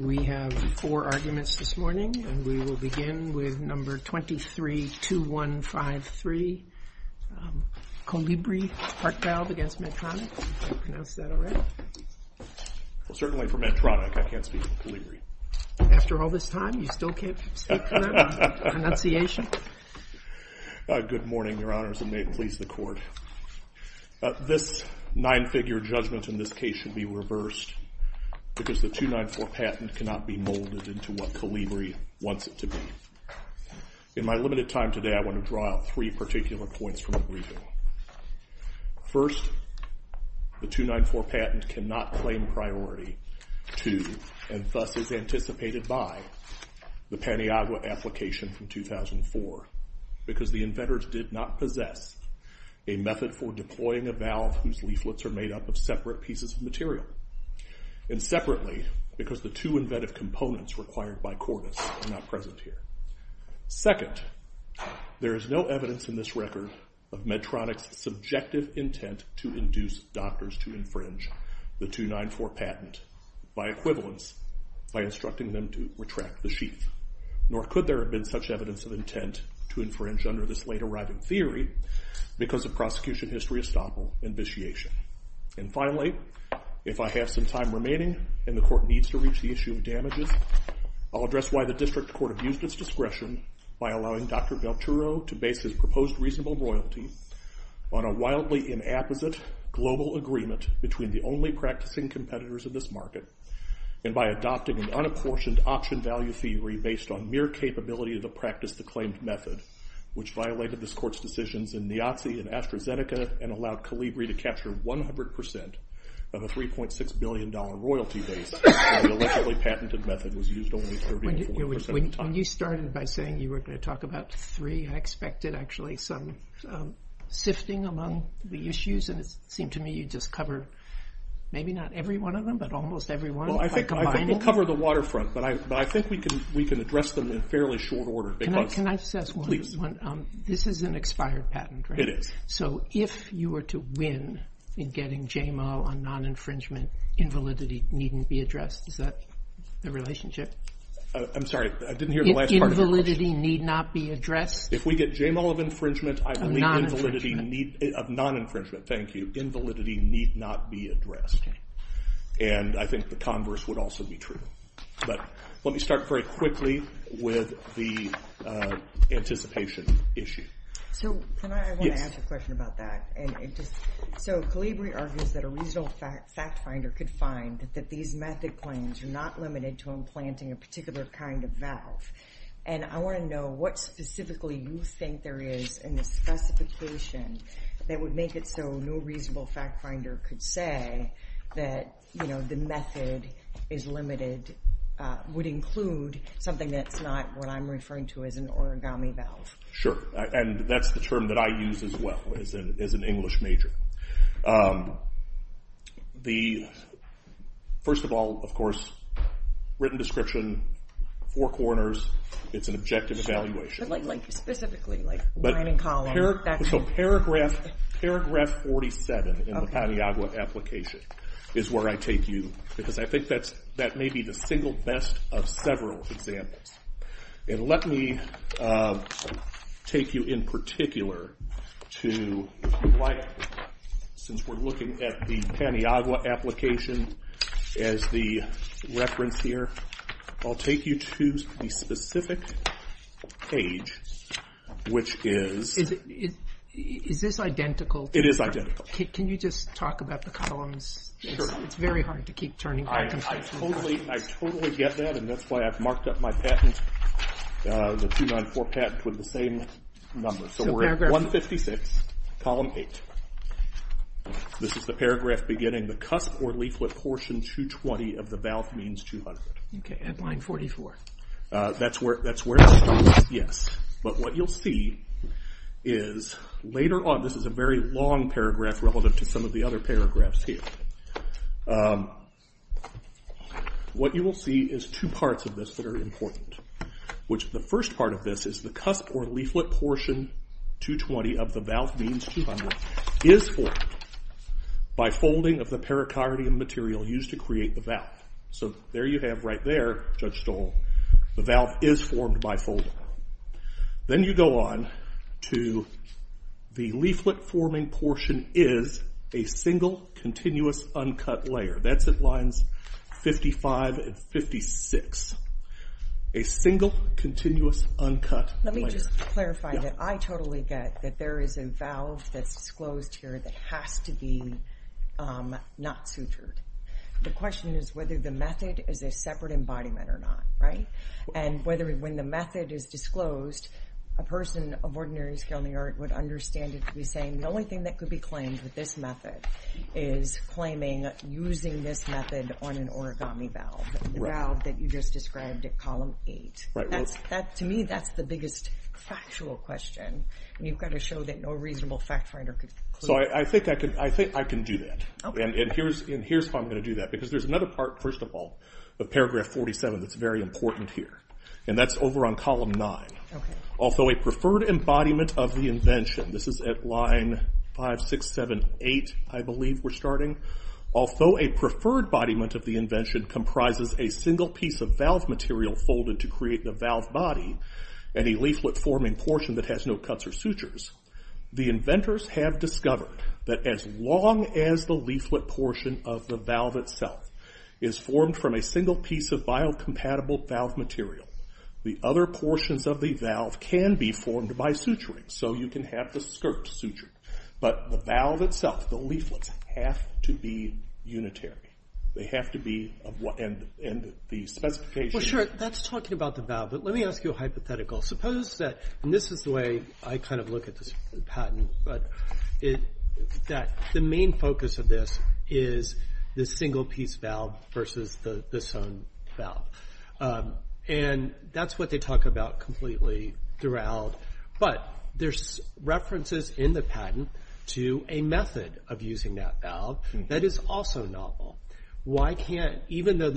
We have four arguments this morning, and we will begin with number 232153, Colibri Heart Valve against Medtronic. Have you pronounced that already? Well, certainly for Medtronic, I can't speak for Colibri. After all this time, you still can't speak for that? Pronunciation? Good morning, Your Honors, and may it please the Court. This nine-figure judgment in this case should be reversed because the 294 patent cannot be molded into what Colibri wants it to be. In my limited time today, I want to draw out three particular points from the briefing. First, the 294 patent cannot claim priority to, and thus is anticipated by, the Paniagua application from 2004 because the inventors did not possess a method for deploying a valve whose leaflets are made up of separate pieces of material. And separately, because the two inventive components required by Cordis are not present here. Second, there is no evidence in this record of Medtronic's subjective intent to induce doctors to infringe the 294 patent, by equivalence, by instructing them to retract the sheath. Nor could there have been such evidence of intent to infringe under this late-arriving theory because of prosecution history estoppel and vitiation. And finally, if I have some time remaining and the Court needs to reach the issue of damages, I'll address why the District Court abused its discretion by allowing Dr. Velturo to base his proposed reasonable royalty on a wildly inapposite global agreement between the only practicing competitors of this market and by adopting an unapportioned auction value theory based on mere capability to practice the claimed method, which violated this Court's decisions in Niazzi and AstraZeneca and allowed Colibri to capture 100% of a $3.6 billion royalty base when the allegedly patented method was used only 30 to 40% of the time. When you started by saying you were going to talk about three, I expected actually some sifting among the issues, and it seemed to me you'd just cover maybe not every one of them, but almost every one by combining them. Well, I think we'll cover the waterfront, but I think we can address them in fairly short order. Can I just ask one? This is an expired patent, right? It is. So if you were to win in getting JMO on non-infringement, invalidity needn't be addressed. Is that the relationship? I'm sorry, I didn't hear the last part of the question. Invalidity need not be addressed? If we get JMO of infringement, I believe invalidity of non-infringement. Thank you. Invalidity need not be addressed, and I think the converse would also be true. But let me start very quickly with the anticipation issue. Can I ask a question about that? So Calibri argues that a reasonable fact finder could find that these method claims are not limited to implanting a particular kind of valve, and I want to know what specifically you think there is in the specification that would make it so no reasonable fact finder could say that the method is limited, would include something that's not what I'm referring to as an origami valve. Sure, and that's the term that I use as well as an English major. First of all, of course, written description, four corners, it's an objective evaluation. But like specifically, like line and column. So paragraph 47 in the Paniagua application is where I take you, because I think that may be the single best of several examples. And let me take you in particular to, since we're looking at the Paniagua application as the reference here, I'll take you to the specific page, which is... Is this identical? It is identical. Can you just talk about the columns? Sure. It's very hard to keep turning. I totally get that, and that's why I've marked up my patent, the 294 patent, with the same number. So we're at 156, column 8. This is the paragraph beginning, the cusp or leaflet portion 220 of the valve means 200. Okay, and line 44. That's where it stops, yes. But what you'll see is later on, this is a very long paragraph relative to some of the other paragraphs here. What you will see is two parts of this that are important, which the first part of this is the cusp or leaflet portion 220 of the valve means 200 is formed by folding of the pericardium material used to create the valve. So there you have right there, Judge Stoll, the valve is formed by folding. Then you go on to the leaflet forming portion is a single continuous uncut layer. That's at lines 55 and 56. A single continuous uncut layer. Let me just clarify that I totally get that there is a valve that's disclosed here that has to be not sutured. The question is whether the method is a separate embodiment or not, right? And whether when the method is disclosed, a person of ordinary skill in the art would understand it to be saying, the only thing that could be claimed with this method is claiming using this method on an origami valve. The valve that you just described at column 8. To me, that's the biggest factual question. And you've got to show that no reasonable fact finder could conclude. So I think I can do that. And here's how I'm going to do that. Because there's another part, first of all, of paragraph 47 that's very important here. And that's over on column 9. Although a preferred embodiment of the invention, this is at line 5678, I believe we're starting. Although a preferred embodiment of the invention comprises a single piece of valve material folded to create the valve body, and a leaflet forming portion that has no cuts or sutures, the inventors have discovered that as long as the leaflet portion of the valve itself is formed from a single piece of biocompatible valve material, the other portions of the valve can be formed by suturing. So you can have the skirt sutured. But the valve itself, the leaflets, have to be unitary. They have to be, and the specification. Well, sure, that's talking about the valve. But let me ask you a hypothetical. Suppose that, and this is the way I kind of look at this patent, but that the main focus of this is the single piece valve versus the sewn valve. And that's what they talk about completely throughout. But there's references in the patent to a method of using that valve that is also novel. Why can't, even though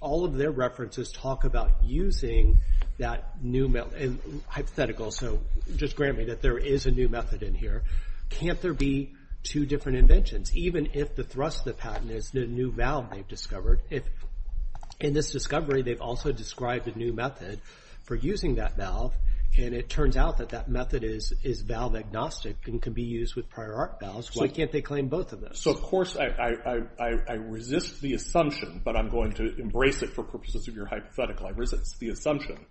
all of their references talk about using that new method, and hypothetical, so just grant me that there is a new method in here, can't there be two different inventions? Even if the thrust of the patent is the new valve they've discovered, if in this discovery they've also described a new method for using that valve, and it turns out that that method is valve agnostic and can be used with prior art valves, why can't they claim both of those? So, of course, I resist the assumption, but I'm going to embrace it for purposes of your hypothetical. I resist the assumption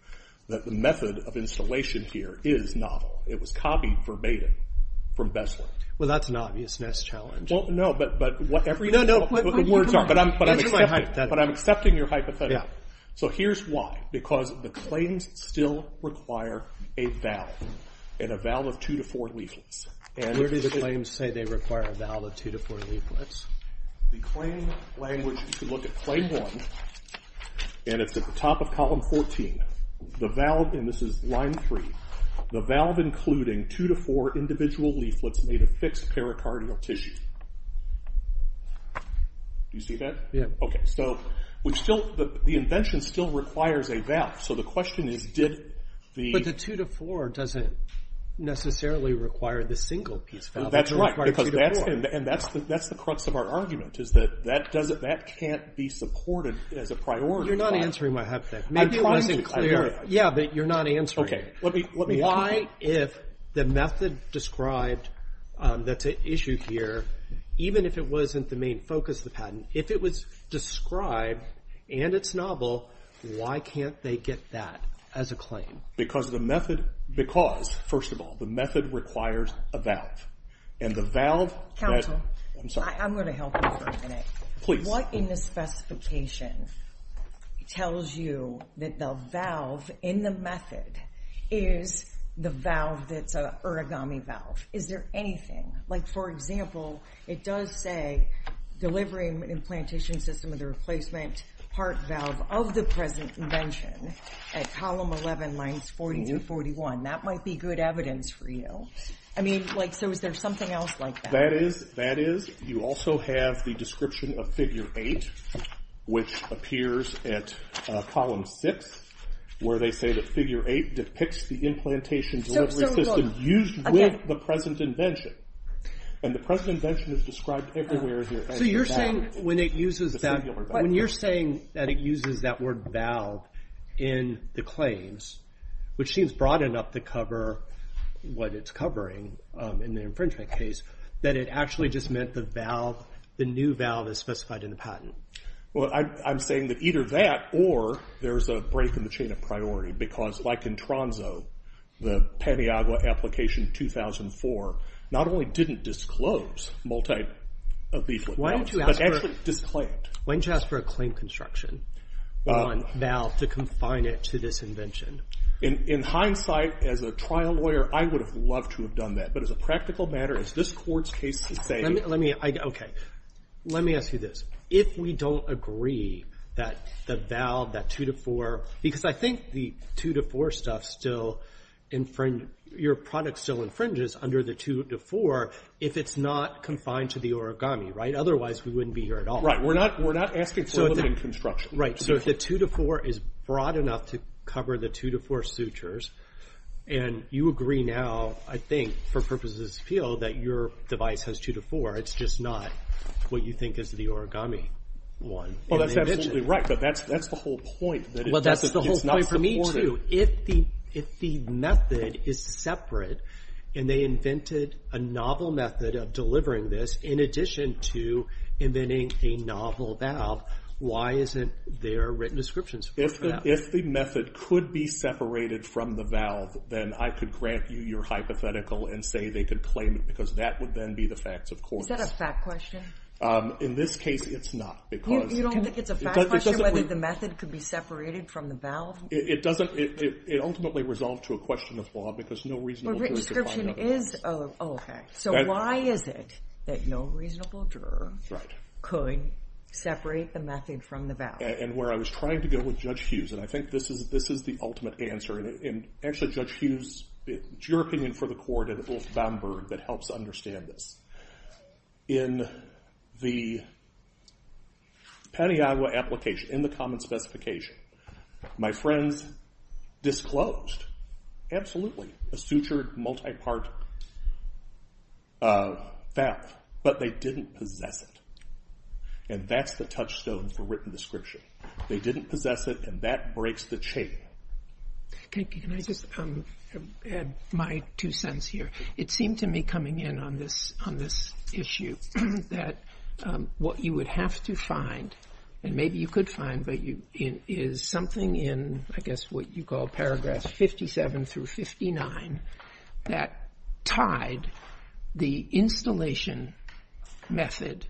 that the method of installation here is novel. It was copied verbatim from Besler. Well, that's an obvious next challenge. Well, no, but whatever you think the words are, but I'm accepting your hypothetical. So here's why. Because the claims still require a valve, and a valve of two to four leaflets. Where do the claims say they require a valve of two to four leaflets? The claim language, if you look at claim one, and it's at the top of column 14, the valve, and this is line three, the valve including two to four individual leaflets made of fixed pericardial tissue. Do you see that? Yeah. Okay, so the invention still requires a valve, so the question is did the- necessarily require the single piece valve. That's right, because that's the crux of our argument, is that that can't be supported as a priority. You're not answering my hypothetical. I'm trying to. Yeah, but you're not answering it. Okay, let me- Why, if the method described that's at issue here, even if it wasn't the main focus of the patent, if it was described and it's novel, why can't they get that as a claim? Because the method- Because, first of all, the method requires a valve, and the valve- Counselor. I'm sorry. I'm going to help you for a minute. Please. What in the specification tells you that the valve in the method is the valve that's an origami valve? Is there anything? Like, for example, it does say, system of the replacement part valve of the present invention at column 11, lines 40 through 41. That might be good evidence for you. I mean, like, so is there something else like that? That is. You also have the description of figure 8, which appears at column 6, where they say that figure 8 depicts the implantation delivery system used with the present invention, and the present invention is described everywhere here. So you're saying when it uses that- When you're saying that it uses that word valve in the claims, which seems broad enough to cover what it's covering in the infringement case, that it actually just meant the valve, the new valve, is specified in the patent. Well, I'm saying that either that or there's a break in the chain of priority, because like in Tronzo, the Paniagua application 2004 not only didn't disclose multi-leaflet valves, but actually disclaimed. Why don't you ask for a claim construction on valve to confine it to this invention? In hindsight, as a trial lawyer, I would have loved to have done that, but as a practical matter, as this court's case is saying- Let me ask you this. If we don't agree that the valve, that 2-to-4, because I think the 2-to-4 stuff still infringes- your product still infringes under the 2-to-4 if it's not confined to the origami, right? Otherwise, we wouldn't be here at all. Right. We're not asking for a limit in construction. Right. So if the 2-to-4 is broad enough to cover the 2-to-4 sutures, and you agree now, I think, for purposes of this appeal, that your device has 2-to-4, it's just not what you think is the origami one. Well, that's absolutely right, but that's the whole point. Well, that's the whole point for me, too. If the method is separate, and they invented a novel method of delivering this in addition to inventing a novel valve, why isn't there written descriptions for that? If the method could be separated from the valve, then I could grant you your hypothetical and say they could claim it, because that would then be the facts, of course. Is that a fact question? In this case, it's not. You don't think it's a fact question whether the method could be separated from the valve? It ultimately resolved to a question of law because no reasonable juror could find out. So why is it that no reasonable juror could separate the method from the valve? And where I was trying to go with Judge Hughes, and I think this is the ultimate answer, and actually, Judge Hughes, it's your opinion for the court and Ulf Bamberg that helps understand this. In the Paniagua application, in the common specification, my friends disclosed, absolutely, a sutured multi-part valve, but they didn't possess it. And that's the touchstone for written description. They didn't possess it, and that breaks the chain. Can I just add my two cents here? It seemed to me coming in on this issue that what you would have to find, and maybe you could find, but is something in, I guess, what you call paragraph 57 through 59, that tied the installation method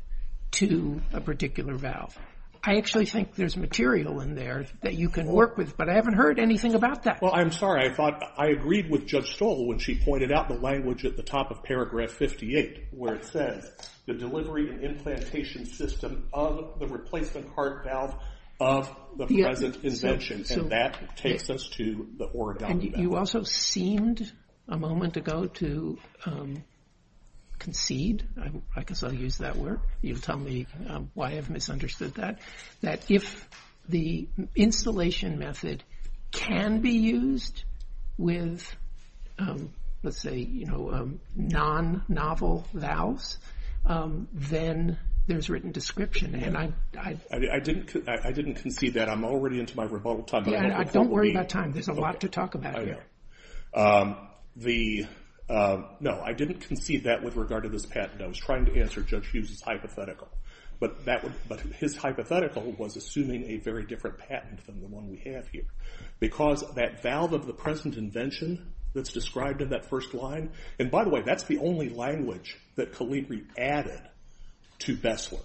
to a particular valve. I actually think there's material in there that you can work with, but I haven't heard anything about that. Well, I'm sorry. I thought I agreed with Judge Stoll when she pointed out the language at the top of paragraph 58 where it says the delivery and implantation system of the replacement heart valve of the present invention, and that takes us to the oral document. And you also seemed a moment ago to concede. I guess I'll use that word. You'll tell me why I've misunderstood that, that if the installation method can be used with, let's say, non-novel valves, then there's written description. I didn't concede that. I'm already into my rebuttal time. Don't worry about time. There's a lot to talk about here. No, I didn't concede that with regard to this patent. I was trying to answer Judge Hughes's hypothetical, but his hypothetical was assuming a very different patent than the one we have here because that valve of the present invention that's described in that first line, and by the way, that's the only language that Caligari added to Bessler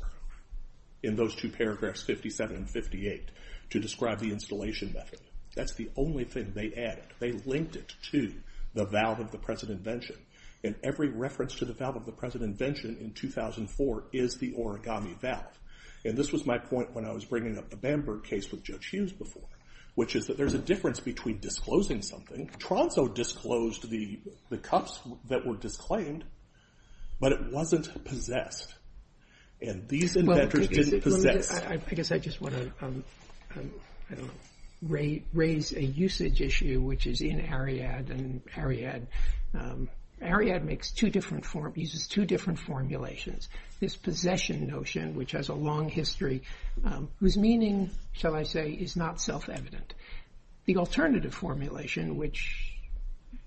in those two paragraphs, 57 and 58, to describe the installation method. That's the only thing they added. They linked it to the valve of the present invention. And every reference to the valve of the present invention in 2004 is the origami valve. And this was my point when I was bringing up the Bamberg case with Judge Hughes before, which is that there's a difference between disclosing something. Tronso disclosed the cups that were disclaimed, but it wasn't possessed. And these inventors didn't possess. I guess I just want to raise a usage issue, which is in Ariadne. Ariadne uses two different formulations. This possession notion, which has a long history, whose meaning, shall I say, is not self-evident. The alternative formulation, which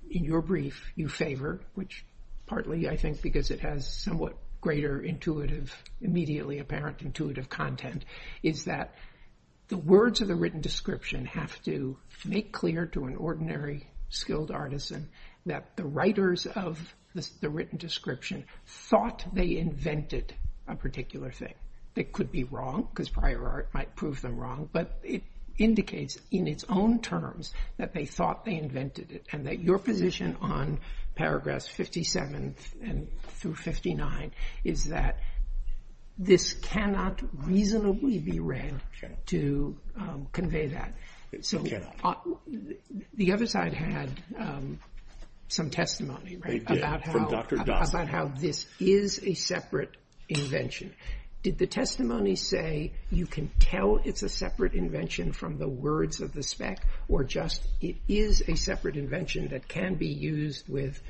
in your brief you favor, which partly I think because it has somewhat greater intuitive, immediately apparent intuitive content, is that the words of the written description have to make clear to an ordinary skilled artisan that the writers of the written description thought they invented a particular thing. It could be wrong, because prior art might prove them wrong, but it indicates in its own terms that they thought they invented it, and that your position on paragraphs 57 through 59 is that this cannot reasonably be read to convey that. The other side had some testimony about how this is a separate invention. Did the testimony say you can tell it's a separate invention from the words of the spec, or just it is a separate invention that can be used with,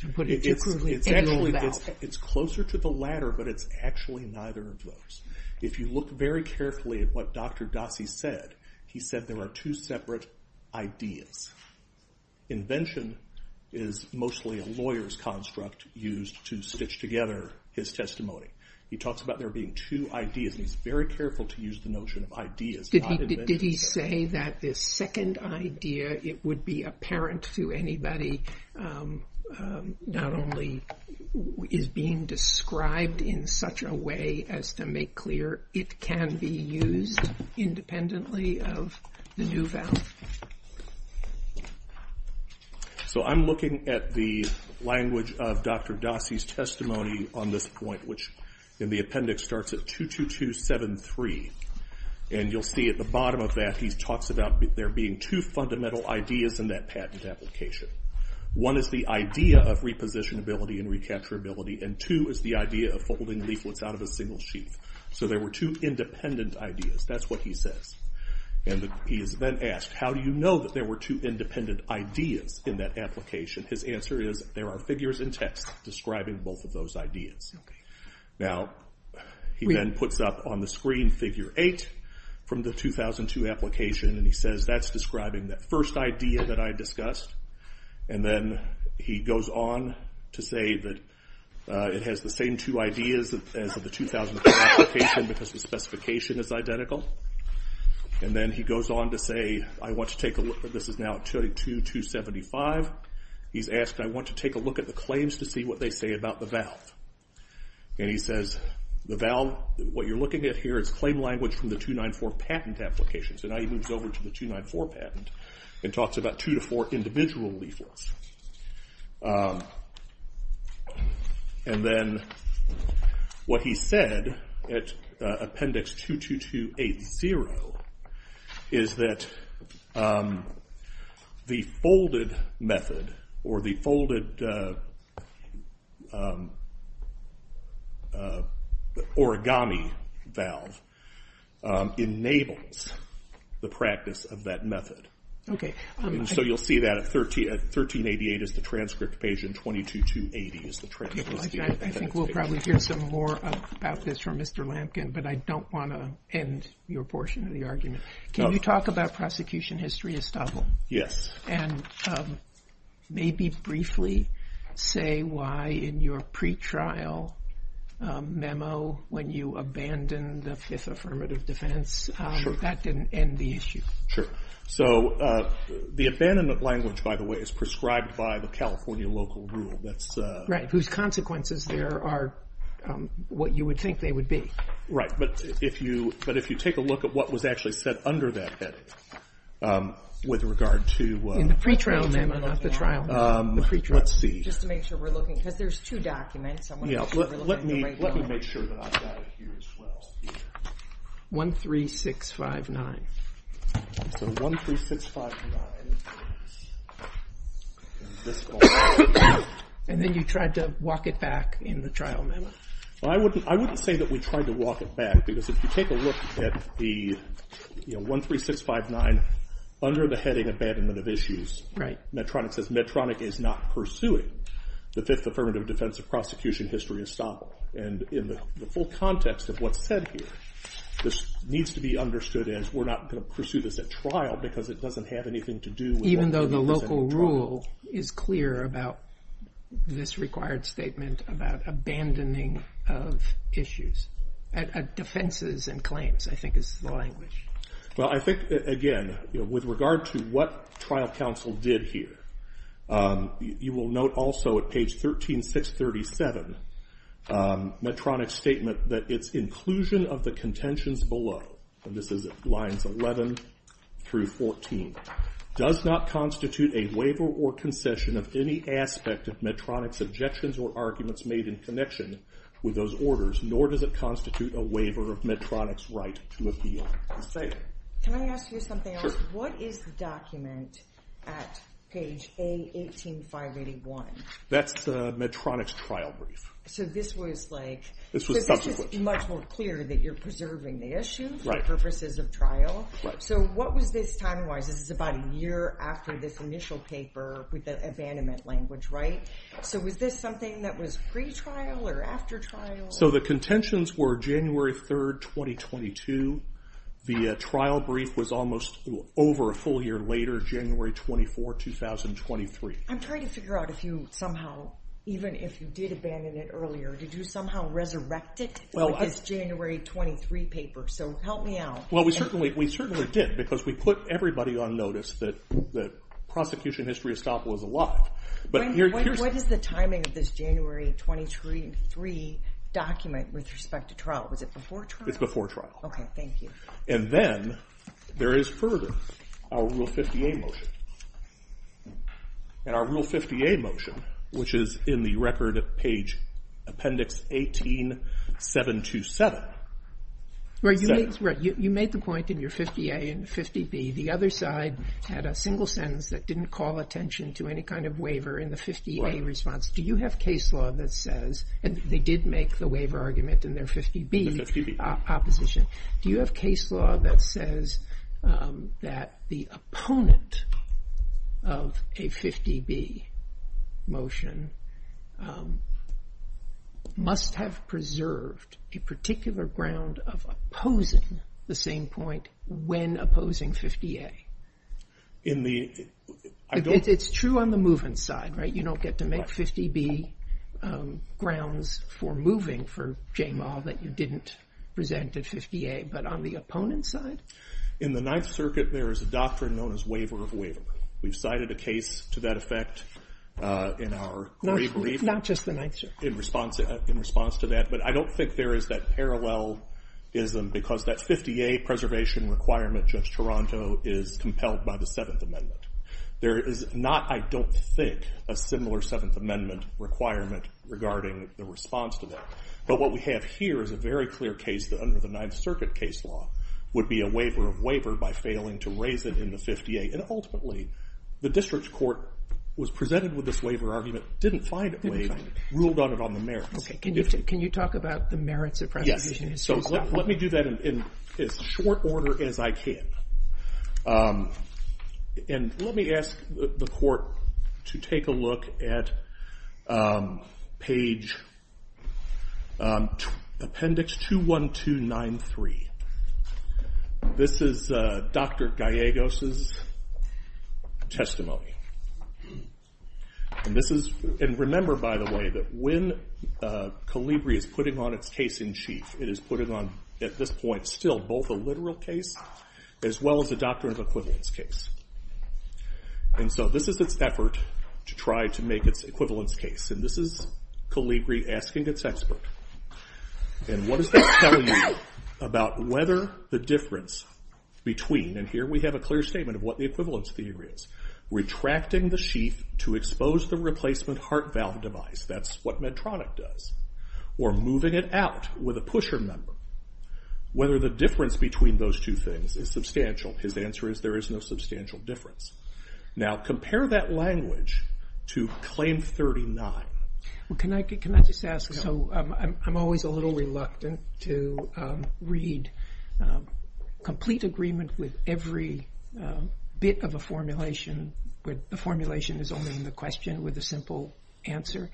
to put it too crudely, It's closer to the latter, but it's actually neither of those. If you look very carefully at what Dr. Dossey said, he said there are two separate ideas. Invention is mostly a lawyer's construct used to stitch together his testimony. He talks about there being two ideas, and he's very careful to use the notion of ideas. Did he say that this second idea, it would be apparent to anybody, not only is being described in such a way as to make clear it can be used independently of the new valve? I'm looking at the language of Dr. Dossey's testimony on this point, which in the appendix starts at 22273. You'll see at the bottom of that he talks about there being two fundamental ideas in that patent application. One is the idea of repositionability and recapturability, and two is the idea of folding leaflets out of a single sheath. So there were two independent ideas, that's what he says. He is then asked, how do you know that there were two independent ideas in that application? His answer is, there are figures and text describing both of those ideas. Now, he then puts up on the screen figure 8 from the 2002 application, and he says that's describing that first idea that I discussed. Then he goes on to say that it has the same two ideas as the 2002 application because the specification is identical. Then he goes on to say, I want to take a look, this is now 22275. He's asked, I want to take a look at the claims to see what they say about the valve. And he says, the valve, what you're looking at here is claim language from the 294 patent application. So now he moves over to the 294 patent and talks about two to four individual leaflets. And then what he said at appendix 22280 is that the folded method, or the folded origami valve, enables the practice of that method. So you'll see that at 1388 is the transcript page and 22280 is the transcript. I think we'll probably hear some more about this from Mr. Lampkin, but I don't want to end your portion of the argument. Can you talk about prosecution history, Estavol? Yes. And maybe briefly say why in your pretrial memo, when you abandoned the Fifth Affirmative Defense, that didn't end the issue. Sure. So the abandonment language, by the way, is prescribed by the California local rule. Right. Whose consequences there are what you would think they would be. Right. But if you take a look at what was actually said under that heading with regard to- In the pretrial memo, not the trial memo. Let's see. Just to make sure we're looking, because there's two documents. Let me make sure that I've got it here as well. 13659. So 13659. And then you tried to walk it back in the trial memo. I wouldn't say that we tried to walk it back, because if you take a look at the 13659 under the heading Abandonment of Issues, Medtronic says Medtronic is not pursuing the Fifth Affirmative Defense of prosecution history, Estavol. And in the full context of what's said here, this needs to be understood as we're not going to pursue this at trial, because it doesn't have anything to do with- Even though the local rule is clear about this required statement about abandoning of issues. Defenses and claims, I think, is the language. Well, I think, again, with regard to what trial counsel did here, you will note also at page 13637 Medtronic's statement that its inclusion of the contentions below, and this is lines 11 through 14, does not constitute a waiver or concession of any aspect of Medtronic's objections or arguments made in connection with those orders, nor does it constitute a waiver of Medtronic's right to appeal. Can I ask you something else? What is the document at page A18581? That's the Medtronic's trial brief. So this was like- This was subsequent. This is much more clear that you're preserving the issues- Right. For purposes of trial. Right. So what was this time-wise? This is about a year after this initial paper with the abandonment language, right? So was this something that was pre-trial or after trial? So the contentions were January 3rd, 2022. The trial brief was almost over a full year later, January 24th, 2023. I'm trying to figure out if you somehow, even if you did abandon it earlier, did you somehow resurrect it with this January 23 paper? So help me out. Well, we certainly did because we put everybody on notice that prosecution history estoppel was alive. What is the timing of this January 23 document with respect to trial? Was it before trial? It's before trial. Okay, thank you. And then there is further, our Rule 50A motion. And our Rule 50A motion, which is in the record at page appendix 18727- Right, you made the point in your 50A and 50B. The other side had a single sentence that didn't call attention to any kind of waiver in the 50A response. Do you have case law that says, and they did make the waiver argument in their 50B opposition. Do you have case law that says that the opponent of a 50B motion must have preserved a particular ground of opposing the same point when opposing 50A? In the- It's true on the movement side, right? You don't get to make 50B grounds for moving for J-Mal that you didn't present at 50A, but on the opponent's side? In the Ninth Circuit, there is a doctrine known as waiver of waiver. We've cited a case to that effect in our brief. Not just the Ninth Circuit. In response to that. But I don't think there is that parallelism because that 50A preservation requirement, Judge Toronto, is compelled by the Seventh Amendment. There is not, I don't think, a similar Seventh Amendment requirement regarding the response to that. But what we have here is a very clear case that under the Ninth Circuit case law would be a waiver of waiver by failing to raise it in the 50A. And ultimately, the district court was presented with this waiver argument, didn't find it waived, ruled on it on the merits. Can you talk about the merits of preservation? Let me do that in as short order as I can. Let me ask the court to take a look at page appendix 21293. This is Dr. Gallegos' testimony. And remember, by the way, that when Calibri is putting on its case in chief, it is putting on, at this point, still both a literal case as well as a doctrine of equivalence case. And so this is its effort to try to make its equivalence case. And this is Calibri asking its expert. And what is this telling you about whether the difference between, and here we have a clear statement of what the equivalence theory is, retracting the sheath to expose the replacement heart valve device, that's what Medtronic does, or moving it out with a pusher member, whether the difference between those two things is substantial. His answer is there is no substantial difference. Now compare that language to Claim 39. Can I just ask? I'm always a little reluctant to read complete agreement with every bit of a formulation where the formulation is only the question with a simple answer.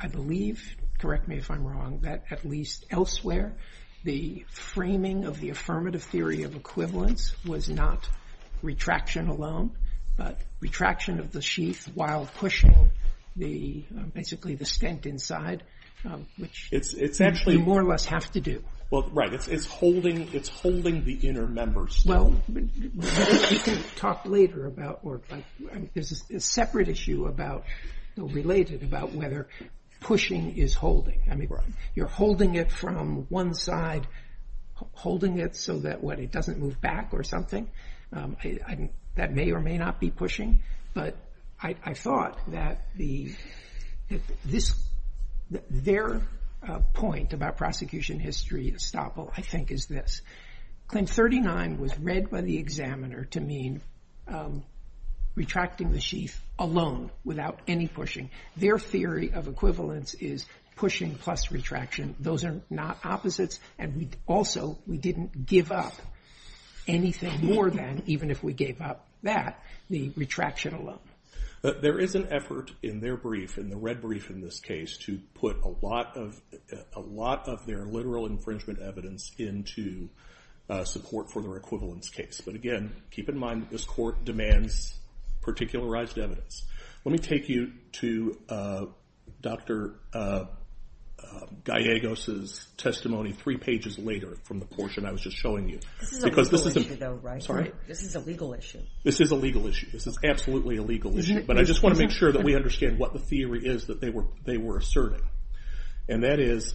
I believe, correct me if I'm wrong, that at least elsewhere, the framing of the affirmative theory of equivalence was not retraction alone, but retraction of the sheath while pushing, basically, the stent inside, which you more or less have to do. Right, it's holding the inner members. Well, you can talk later about, there's a separate issue related about whether pushing is holding. You're holding it from one side, holding it so that it doesn't move back or something. That may or may not be pushing, but I thought that their point about prosecution history, Estoppel, I think is this. Claim 39 was read by the examiner to mean retracting the sheath alone without any pushing. Their theory of equivalence is pushing plus retraction. Those are not opposites, and also, we didn't give up anything more than, even if we gave up that, the retraction alone. There is an effort in their brief, in the red brief in this case, to put a lot of their literal infringement evidence into support for their equivalence case. Again, keep in mind that this court demands particularized evidence. Let me take you to Dr. Gallegos' testimony three pages later from the portion I was just showing you. This is a legal issue, though, right? Sorry? This is a legal issue. This is a legal issue. This is absolutely a legal issue, but I just want to make sure that we understand what the theory is that they were asserting. That is,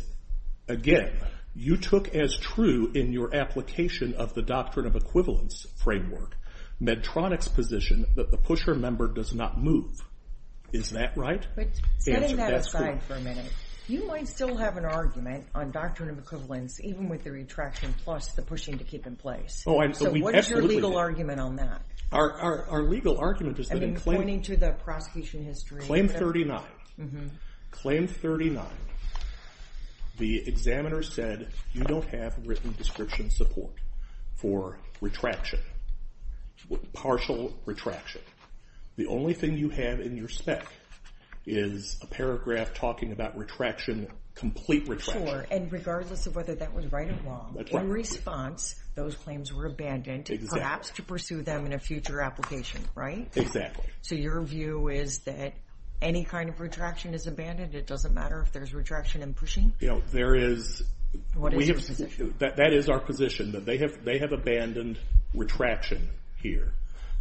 again, you took as true in your application of the doctrine of equivalence framework Medtronic's position that the pusher member does not move. Is that right? Setting that aside for a minute, you might still have an argument on doctrine of equivalence, even with the retraction plus the pushing to keep in place. What is your legal argument on that? Our legal argument is that in claim 39, claim 39, the examiner said, you don't have written description support for retraction, partial retraction. The only thing you have in your spec is a paragraph talking about retraction, complete retraction. Sure, and regardless of whether that was right or wrong, in response, those claims were abandoned, perhaps to pursue them in a future application, right? Exactly. So your view is that any kind of retraction is abandoned? It doesn't matter if there's retraction and pushing? There is. What is your position? That is our position, that they have abandoned retraction here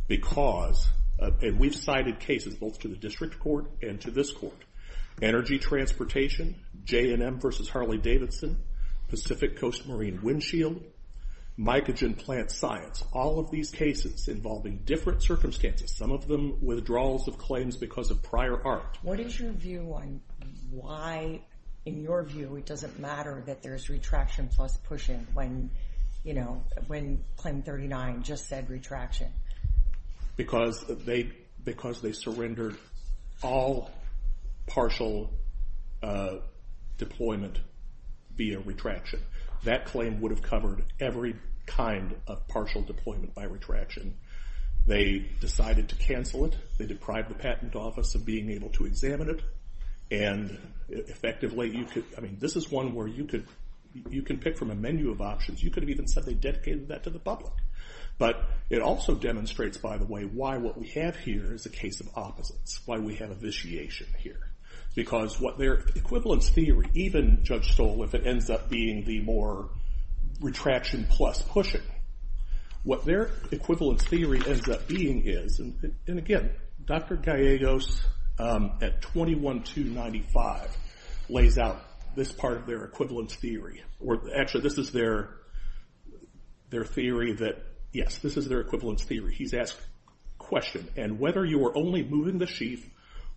because, and we've cited cases both to the district court and to this court, energy transportation, J&M versus Harley-Davidson, Pacific Coast Marine windshield, mycogen plant science, all of these cases involving different circumstances. Some of them withdrawals of claims because of prior art. What is your view on why, in your view, it doesn't matter that there's retraction plus pushing when claim 39 just said retraction? Because they surrendered all partial deployment via retraction. That claim would have covered every kind of partial deployment by retraction. They decided to cancel it. They deprived the patent office of being able to examine it, and effectively you could, I mean, this is one where you could pick from a menu of options. You could have even said they dedicated that to the public. But it also demonstrates, by the way, why what we have here is a case of opposites, why we have a vitiation here. Because what their equivalence theory, even Judge Stoll, if it ends up being the more retraction plus pushing, what their equivalence theory ends up being is, and again, Dr. Gallegos at 21295 lays out this part of their equivalence theory. Actually, this is their theory that, yes, this is their equivalence theory. He's asked a question, and whether you are only moving the sheath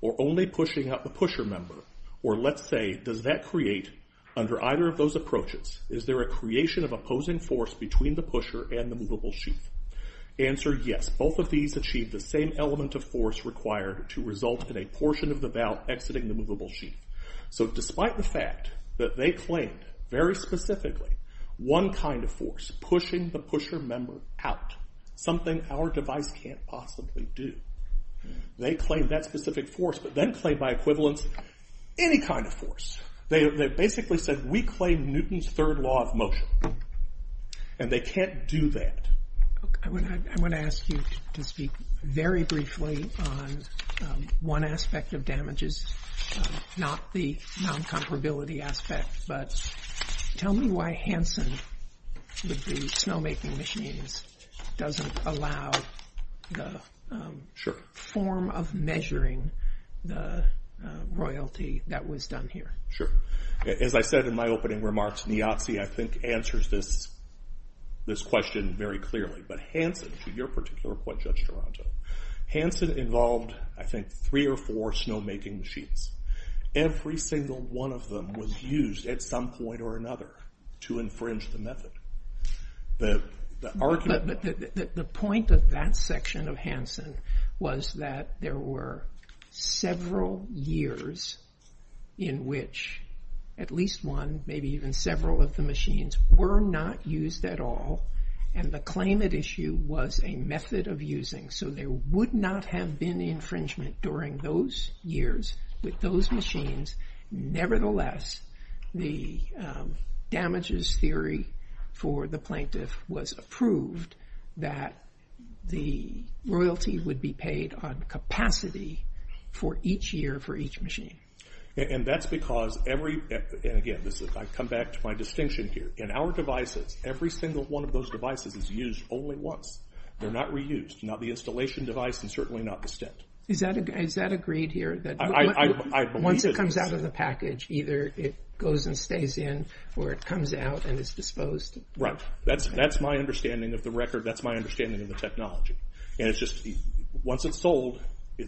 or only pushing up the pusher member, or let's say, does that create, under either of those approaches, is there a creation of opposing force between the pusher and the movable sheath? Answer, yes, both of these achieve the same element of force required to result in a portion of the valve exiting the movable sheath. So despite the fact that they claimed, very specifically, one kind of force, pushing the pusher member out, something our device can't possibly do, they claimed that specific force, but then claimed by equivalence any kind of force. They basically said, we claim Newton's third law of motion, and they can't do that. I want to ask you to speak very briefly on one aspect of damages, not the non-comparability aspect, but tell me why Hanson, with the snowmaking machines, doesn't allow the form of measuring the royalty that was done here. Sure. As I said in my opening remarks, Niazi, I think, answers this question very clearly. But Hanson, to your particular point, Judge Toronto, Hanson involved, I think, three or four snowmaking machines. Every single one of them was used at some point or another to infringe the method. The argument... The point of that section of Hanson was that there were several years in which at least one, maybe even several of the machines, were not used at all, and the claim at issue was a method of using. So there would not have been infringement during those years with those machines. Nevertheless, the damages theory for the plaintiff was approved that the royalty would be paid on capacity for each year for each machine. And that's because every... And again, I come back to my distinction here. In our devices, every single one of those devices is used only once. They're not reused, not the installation device, and certainly not the stent. Is that agreed here? Once it comes out of the package, either it goes and stays in or it comes out and is disposed? Right. That's my understanding of the record. That's my understanding of the technology. And it's just, once it's sold...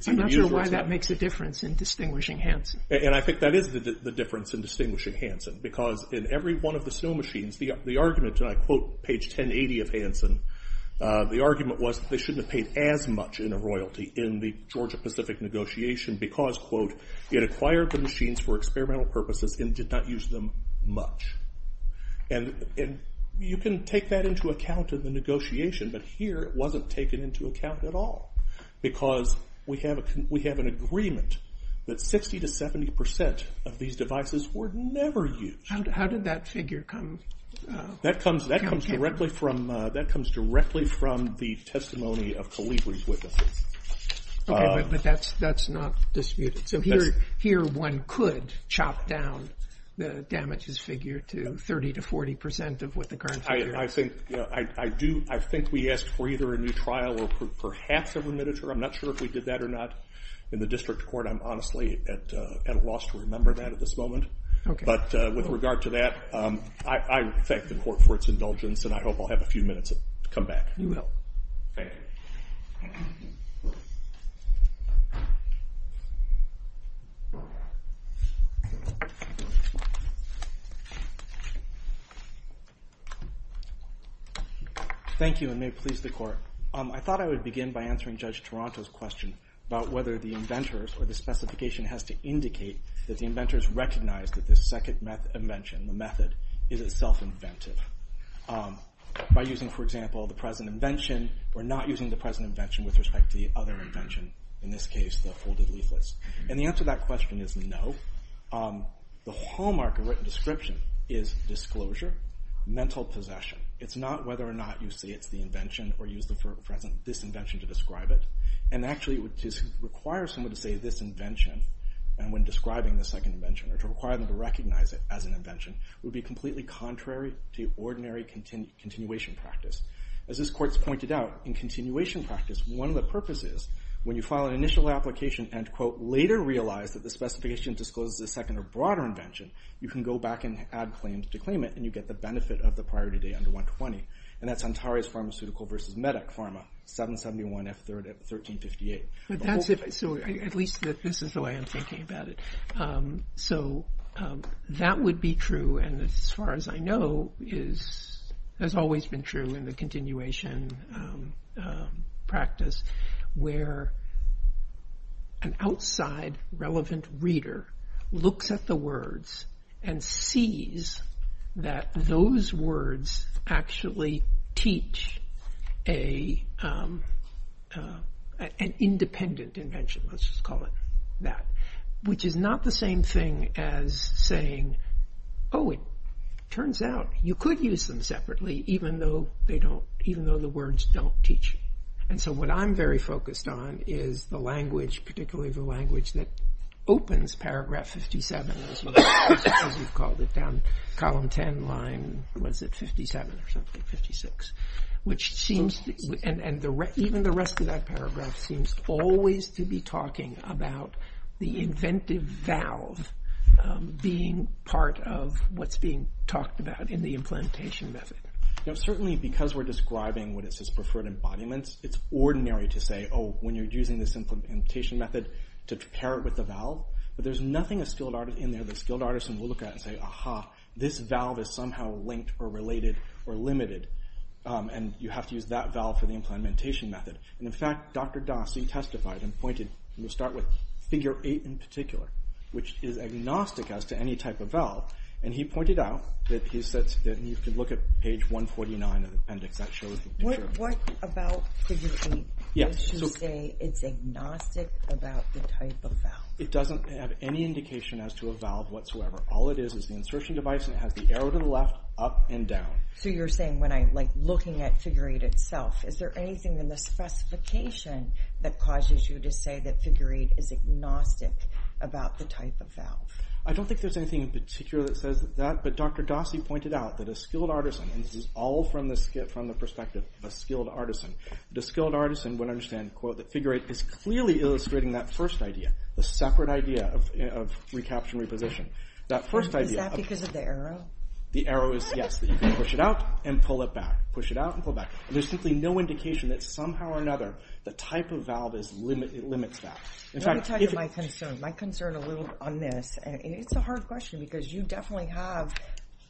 I'm not sure why that makes a difference in distinguishing Hanson. And I think that is the difference in distinguishing Hanson, because in every one of the snow machines, the argument, and I quote page 1080 of Hanson, the argument was that they shouldn't have paid as much in a royalty in the Georgia-Pacific negotiation because, quote, it acquired the machines for experimental purposes and did not use them much. And you can take that into account in the negotiation, but here it wasn't taken into account at all because we have an agreement that 60% to 70% of these devices were never used. How did that figure come... That comes directly from the testimony of Caligari's witnesses. Okay, but that's not disputed. So here one could chop down the damages figure to 30% to 40% of what the current figure is. I think we asked for either a new trial or perhaps a remittiture. I'm not sure if we did that or not. In the district court, I'm honestly at a loss to remember that at this moment. But with regard to that, I thank the court for its indulgence and I hope I'll have a few minutes to come back. You will. Thank you. Thank you. Thank you, and may it please the court. I thought I would begin by answering Judge Toronto's question about whether the inventors or the specification has to indicate that the inventors recognized that this second invention, the method, is itself inventive. By using, for example, the present invention or not using the present invention with respect to the other invention, in this case, the folded leaflets. And the answer to that question is no. The hallmark of written description is disclosure, mental possession. It's not whether or not you say it's the invention or use the present, this invention, to describe it. And actually, to require someone to say this invention when describing the second invention or to require them to recognize it as an invention would be completely contrary to ordinary continuation practice. As this court's pointed out, in continuation practice, one of the purposes, when you file an initial application and, quote, later realize that the specification discloses a second or broader invention, you can go back and add claims to claim it and you get the benefit of the priority day under 120. And that's Antares Pharmaceutical v. Medec Pharma, 771 F. 3rd at 1358. But that's if... So at least this is the way I'm thinking about it. So that would be true, and as far as I know, has always been true in the continuation practice, where an outside, relevant reader looks at the words and sees that those words actually teach an independent invention. Let's just call it that. Which is not the same thing as saying, Oh, it turns out you could use them separately even though the words don't teach you. And so what I'm very focused on is the language, particularly the language that opens paragraph 57, as you've called it, down column 10 line, was it 57 or something, 56. Which seems, and even the rest of that paragraph seems always to be talking about the inventive valve being part of what's being talked about in the implementation method. Certainly because we're describing what it says preferred embodiments, it's ordinary to say, Oh, when you're using this implementation method to pair it with the valve. But there's nothing in there that a skilled artisan will look at and say, Aha, this valve is somehow linked or related or limited. And you have to use that valve for the implementation method. And in fact, Dr. Dawson testified and pointed, and we'll start with figure 8 in particular, which is agnostic as to any type of valve. And he pointed out that he said that you could look at page 149 of the appendix. That shows... What about figure 8? Does she say it's agnostic about the type of valve? It doesn't have any indication as to a valve whatsoever. All it is is the insertion device and it has the arrow to the left, up and down. So you're saying when I'm looking at figure 8 itself, is there anything in the specification that causes you to say that figure 8 is agnostic about the type of valve? I don't think there's anything in particular that says that. But Dr. Dawson pointed out that a skilled artisan, and this is all from the perspective of a skilled artisan, a skilled artisan would understand, quote, that figure 8 is clearly illustrating that first idea, the separate idea of recapture and reposition. Is that because of the arrow? The arrow is, yes, that you can push it out and pull it back, push it out and pull back. There's simply no indication that somehow or another the type of valve limits that. Let me talk about my concern. My concern a little on this, and it's a hard question because you definitely have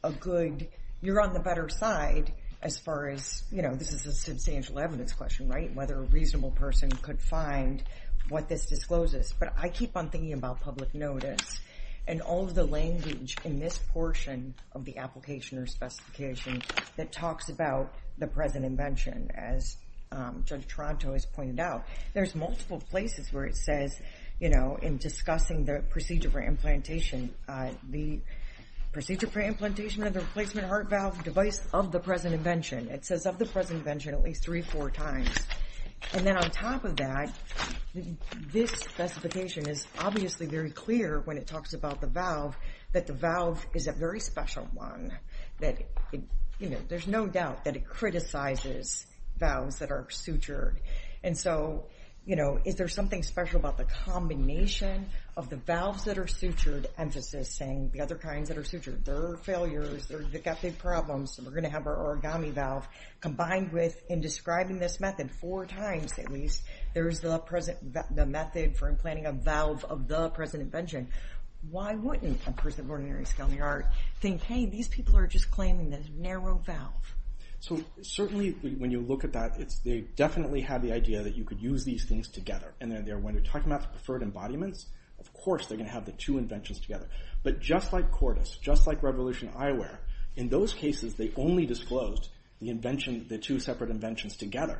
a good, you're on the better side as far as, you know, this is a substantial evidence question, right, whether a reasonable person could find what this discloses. But I keep on thinking about public notice and all of the language in this portion of the application or specification that talks about the present invention, as Judge Toronto has pointed out. There's multiple places where it says, you know, in discussing the procedure for implantation, the procedure for implantation of the replacement heart valve device of the present invention. It says of the present invention at least three, four times. And then on top of that, this specification is obviously very clear when it talks about the valve, that the valve is a very special one, that, you know, there's no doubt that it criticizes valves that are sutured. And so, you know, is there something special about the combination of the valves that are sutured, emphasis saying the other kinds that are sutured, there are failures, they've got big problems, so we're going to have our origami valve, combined with in describing this method four times at least, there's the method for implanting a valve of the present invention. Why wouldn't a person of ordinary skill in the art think, hey, these people are just claiming the narrow valve? So certainly when you look at that, they definitely have the idea that you could use these things together. And when you're talking about the preferred embodiments, of course they're going to have the two inventions together. But just like Cordis, just like Revolution Eyewear, in those cases they only disclosed the invention, the two separate inventions together.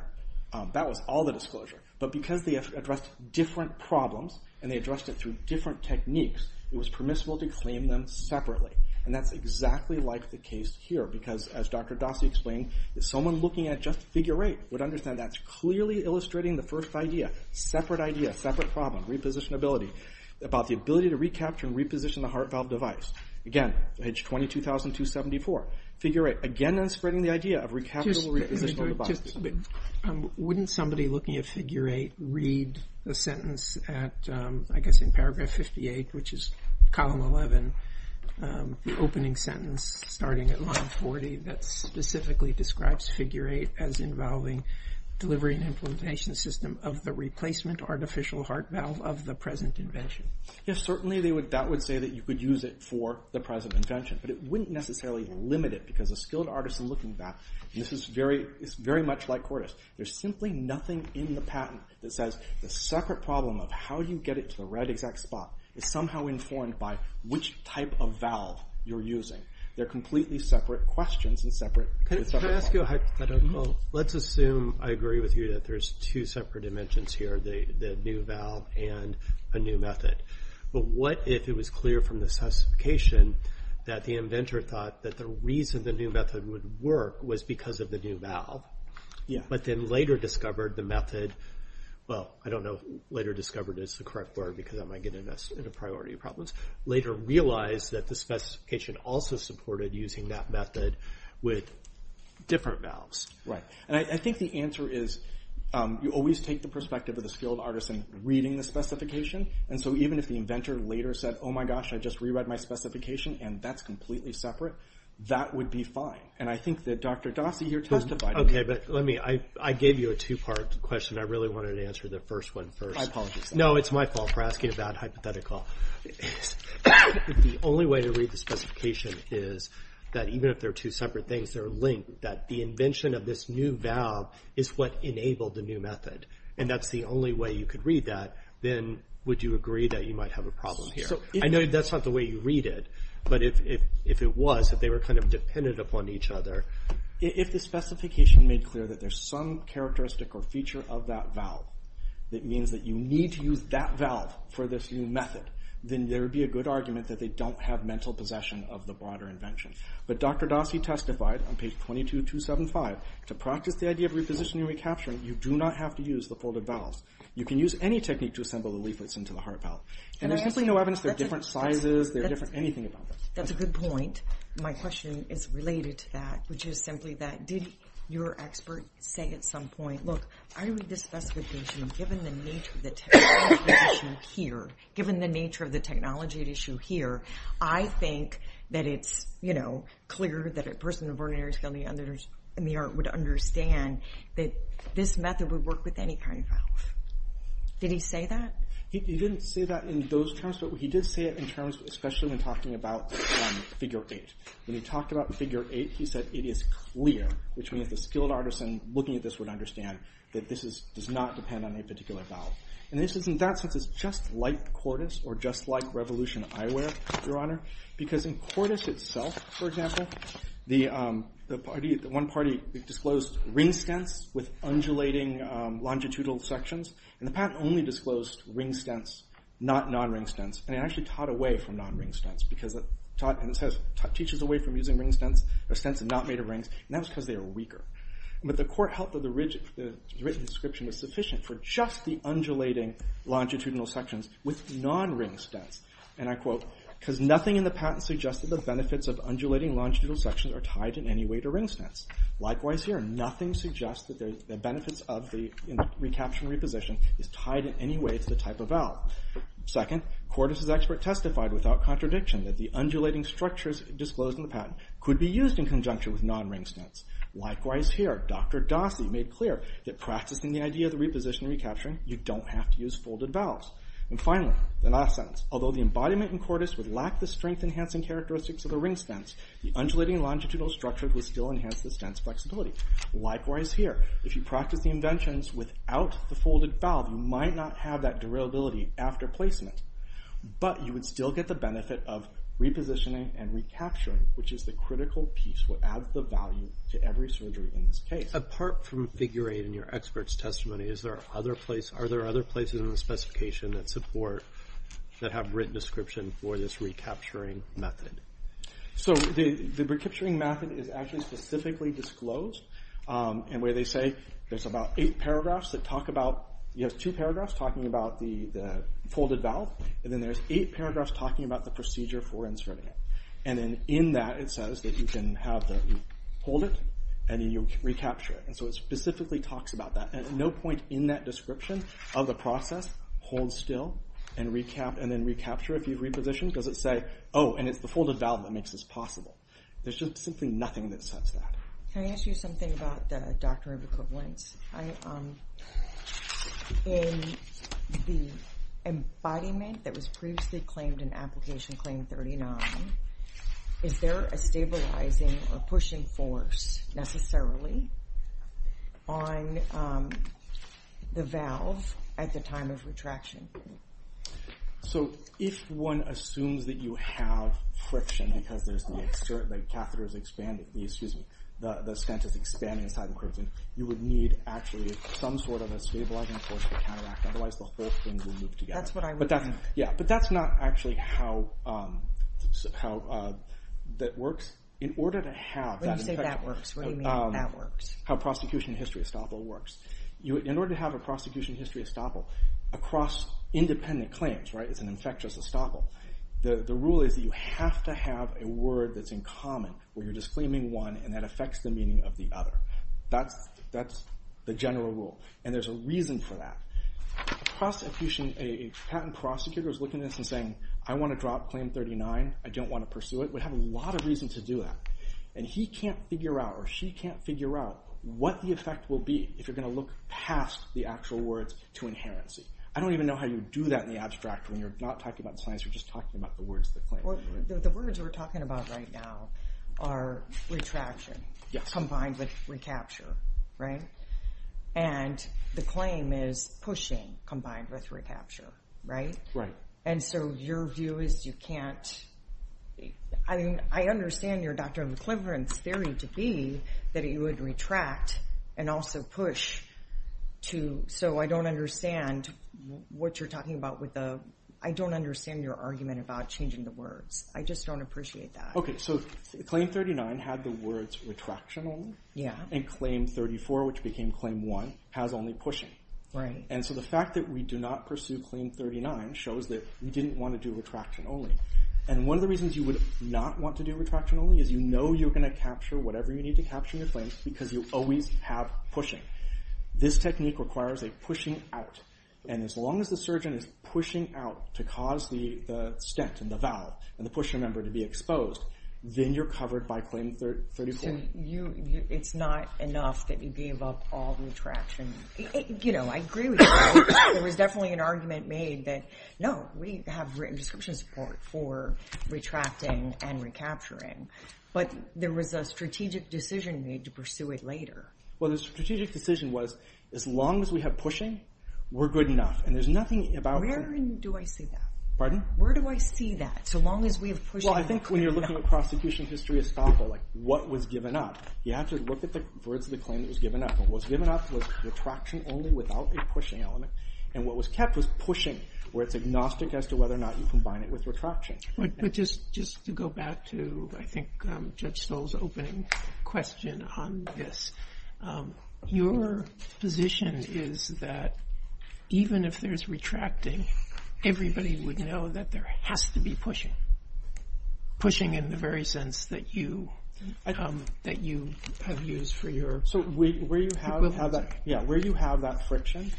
That was all the disclosure. But because they addressed different problems and they addressed it through different techniques, it was permissible to claim them separately. And that's exactly like the case here, because as Dr. Dossi explained, someone looking at just Figure 8 would understand that's clearly illustrating the first idea, separate idea, separate problem, repositionability, about the ability to recapture and reposition the heart valve device. Again, page 22,274, Figure 8, again, that's spreading the idea of recapitable, repositional devices. Just a minute. Wouldn't somebody looking at Figure 8 read the sentence at, I guess in paragraph 58, which is column 11, the opening sentence starting at line 40 that specifically describes Figure 8 as involving delivery and implementation system of the replacement artificial heart valve of the present invention? Yes, certainly that would say that you could use it for the present invention. But it wouldn't necessarily limit it, because a skilled artist looking at that, this is very much like Cordis. There's simply nothing in the patent that says the separate problem of how you get it to the right exact spot is somehow informed by which type of valve you're using. They're completely separate questions and separate problems. Can I ask you a hypothetical? Let's assume, I agree with you, that there's two separate inventions here, the new valve and a new method. But what if it was clear from the specification that the inventor thought that the reason the new method would work was because of the new valve, but then later discovered the method, well, I don't know if later discovered is the correct word because that might get us into priority problems, later realized that the specification also supported using that method with different valves? Right, and I think the answer is you always take the perspective of the skilled artist in reading the specification, and so even if the inventor later said, oh my gosh, I just re-read my specification and that's completely separate, that would be fine. And I think that Dr. Dossey here testified to that. Okay, but let me, I gave you a two-part question. I really wanted to answer the first one first. I apologize. No, it's my fault for asking a bad hypothetical. If the only way to read the specification is that even if they're two separate things, they're linked, that the invention of this new valve is what enabled the new method, and that's the only way you could read that, then would you agree that you might have a problem here? I know that's not the way you read it, but if it was, if they were kind of dependent upon each other... If the specification made clear that there's some characteristic or feature of that valve that means that you need to use that valve for this new method, then there would be a good argument that they don't have mental possession of the broader invention. But Dr. Dossey testified on page 22275, to practice the idea of repositioning and recapturing, you do not have to use the folded valves. You can use any technique to assemble the leaflets into the heart valve. And there's simply no evidence they're different sizes, they're different anything about this. That's a good point. My question is related to that, which is simply that did your expert say at some point, look, I read this specification, given the nature of the technology at issue here, given the nature of the technology at issue here, I think that it's, you know, clear that a person of ordinary skill in the art would understand that this method would work with any kind of valve. Did he say that? He didn't say that in those terms, but he did say it in terms, especially when talking about figure 8. When he talked about figure 8, he said it is clear, which means a skilled artisan looking at this would understand that this does not depend on any particular valve. And this is, in that sense, just like Cordis, or just like Revolution Eyewear, Your Honor, because in Cordis itself, for example, the one party disclosed ring stents with undulating longitudinal sections, and the patent only disclosed ring stents, not non-ring stents, and it actually taught away from non-ring stents, because it teaches away from using ring stents, or stents that are not made of rings, and that's because they are weaker. But the court held that the written description was sufficient for just the undulating longitudinal sections with non-ring stents, and I quote, "'Cause nothing in the patent suggests that the benefits of undulating longitudinal sections are tied in any way to ring stents. Likewise here, nothing suggests that the benefits of the recapture and reposition is tied in any way to the type of valve. Second, Cordis's expert testified without contradiction that the undulating structures disclosed in the patent could be used in conjunction with non-ring stents. Likewise here, Dr. Dossi made clear that practicing the idea of the reposition and recapturing, you don't have to use folded valves. And finally, the last sentence, although the embodiment in Cordis would lack the strength-enhancing characteristics of the ring stents, the undulating longitudinal structure would still enhance the stents' flexibility. Likewise here, if you practice the inventions without the folded valve, you might not have that durability after placement, but you would still get the benefit of repositioning and recapturing, which is the critical piece that adds the value to every surgery in this case. Apart from figure 8 in your expert's testimony, are there other places in the specification that support, that have written description for this recapturing method? So, the recapturing method is actually specifically disclosed. And where they say, there's about 8 paragraphs that talk about, you have 2 paragraphs talking about the folded valve, and then there's 8 paragraphs talking about the procedure for inserting it. And then in that it says that you can hold it, and then you'll recapture it. And so it specifically talks about that. And at no point in that description of the process, hold still, and then recapture it, if you've repositioned, does it say, oh, and it's the folded valve that makes this possible. There's just simply nothing that says that. Can I ask you something about the doctrine of equivalence? In the embodiment that was previously claimed in Application Claim 39, is there a stabilizing or pushing force necessarily on the valve at the time of retraction? So, if one assumes that you have friction because the catheter is expanding, the stent is expanding inside the crimson, you would need actually some sort of a stabilizing force to counteract it, otherwise the whole thing will loop together. But that's not actually how that works. In order to have... When you say that works, what do you mean by that works? How prosecution history estoppel works. In order to have a prosecution history estoppel across independent claims, it's an infectious estoppel, the rule is that you have to have a word that's in common, where you're just claiming one and that affects the meaning of the other. That's the general rule. And there's a reason for that. A patent prosecutor is looking at this and saying, I want to drop Claim 39, I don't want to pursue it, would have a lot of reason to do that. And he can't figure out, or she can't figure out, what the effect will be if you're going to look past the actual words to inherency. I don't even know how you do that in the abstract when you're not talking about science, you're just talking about the words that claim. The words we're talking about right now are retraction combined with recapture. Right? And the claim is pushing combined with recapture, right? And so your view is you can't I mean, I understand your Dr. McCliver theory to be that it would retract and also push to, so I don't understand what you're talking about with the I don't understand your argument about changing the words. I just don't appreciate that. Okay, so Claim 39 had the words retractional and Claim 34, which became Claim 1, has only pushing. And so the fact that we do not pursue Claim 39 shows that we didn't want to do retraction only. And one of the reasons you would not want to do retraction only is you know you're going to capture whatever you need to capture in your claim because you always have pushing. This technique requires a pushing out and as long as the surgeon is pushing out to cause the stent and the valve and the pusher member to be exposed, then you're covered by Claim 34. It's not enough that you gave up all retraction. You know, I agree with you. There was definitely an argument made that no, we have written description support for retracting and recapturing. But there was a strategic decision made to pursue it later. Well, the strategic decision was as long as we have pushing, we're good enough. And there's nothing about Where do I see that? Pardon? Where do I see that? So long as we have pushing I think when you're looking at prosecution history estoppel, like what was given up, you have to look at the words of the claim that was given up. What was given up was retraction only without a pushing element. And what was kept was pushing, where it's agnostic as to whether or not you combine it with retraction. But just to go back to I think Judge Stoll's opening question on this, your position is that even if there's retracting, everybody would know that there has to be pushing. Pushing in the very sense that you that you have used for your Where you have that friction,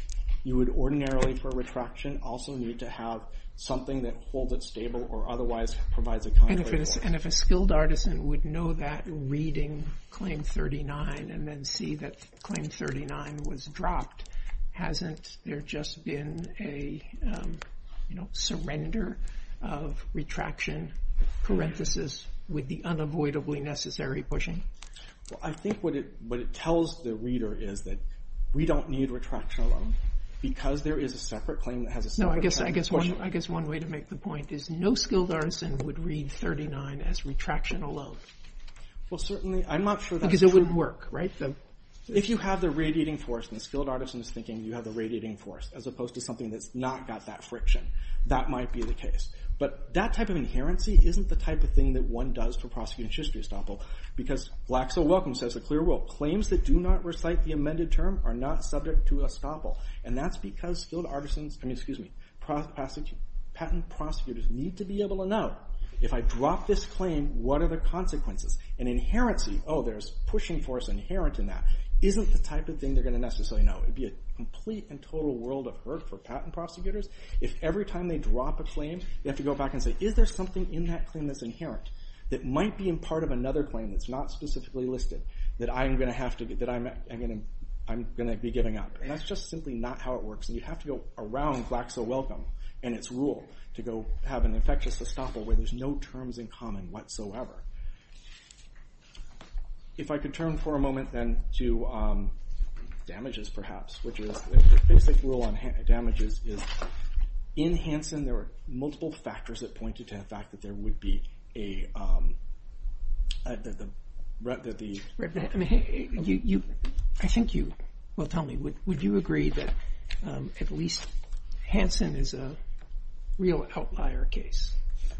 you would ordinarily for retraction also need to have something that holds it stable or otherwise provides a contrary force. And if a skilled artisan would know that reading Claim 39 and then see that Claim 39 was dropped, hasn't there just been a surrender of retraction parenthesis with the unavoidably necessary pushing? I think what it tells the reader is that we don't need retraction alone because there is a separate claim that has a separate type of pushing. I guess one way to make the point is no skilled artisan would read 39 as retraction alone. Because it wouldn't work, right? If you have the radiating force and the skilled artisan is thinking you have the radiating force as opposed to something that's not got that friction. That might be the case. But that type of inherency isn't the type of thing that one does for prosecuting schistory estoppel because Blacks are Welcome says a clear rule. Claims that do not recite the amended term are not subject to estoppel. And that's because skilled artisans patent prosecutors need to be able to know if I drop this claim, what are the consequences? And inherency oh there's pushing force inherent in that isn't the type of thing they're going to necessarily know. It would be a complete and total world of hurt for patent prosecutors if every time they drop a claim they have to go back and say is there something in that claim that's inherent that might be part of another claim that's not specifically listed that I'm going to be giving up. And that's just simply not how it works. And you have to go around Blacks are Welcome and its rule to go have an infectious estoppel where there's no terms in common whatsoever. If I could turn for a moment then to damages perhaps which is the basic rule on damages is in Hansen there were multiple factors that pointed to the fact that there would be a I think you will tell me would you agree that at least Hansen is a real outlier case?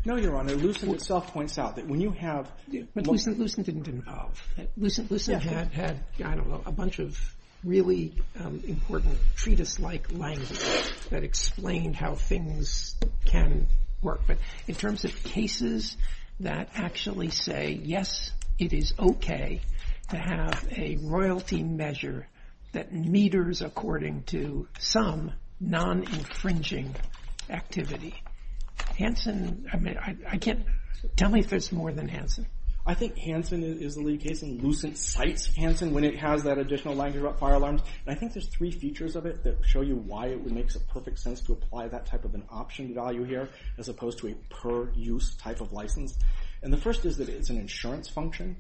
No Your Honor Lucent itself points out that when you have But Lucent didn't involve Lucent had a bunch of really important treatise like language that explained how things can work. But in terms of cases that actually say yes it is okay to have a royalty measure that meters according to some non-infringing activity. Hansen I mean I can't tell me if there's more than Hansen. I think Hansen is the lead case and Lucent cites Hansen when it has that additional language about fire alarms. And I think there's three features of it that show you why it makes a perfect sense to apply that type of an option value here as opposed to a per use type of license. And the first is that it's an insurance function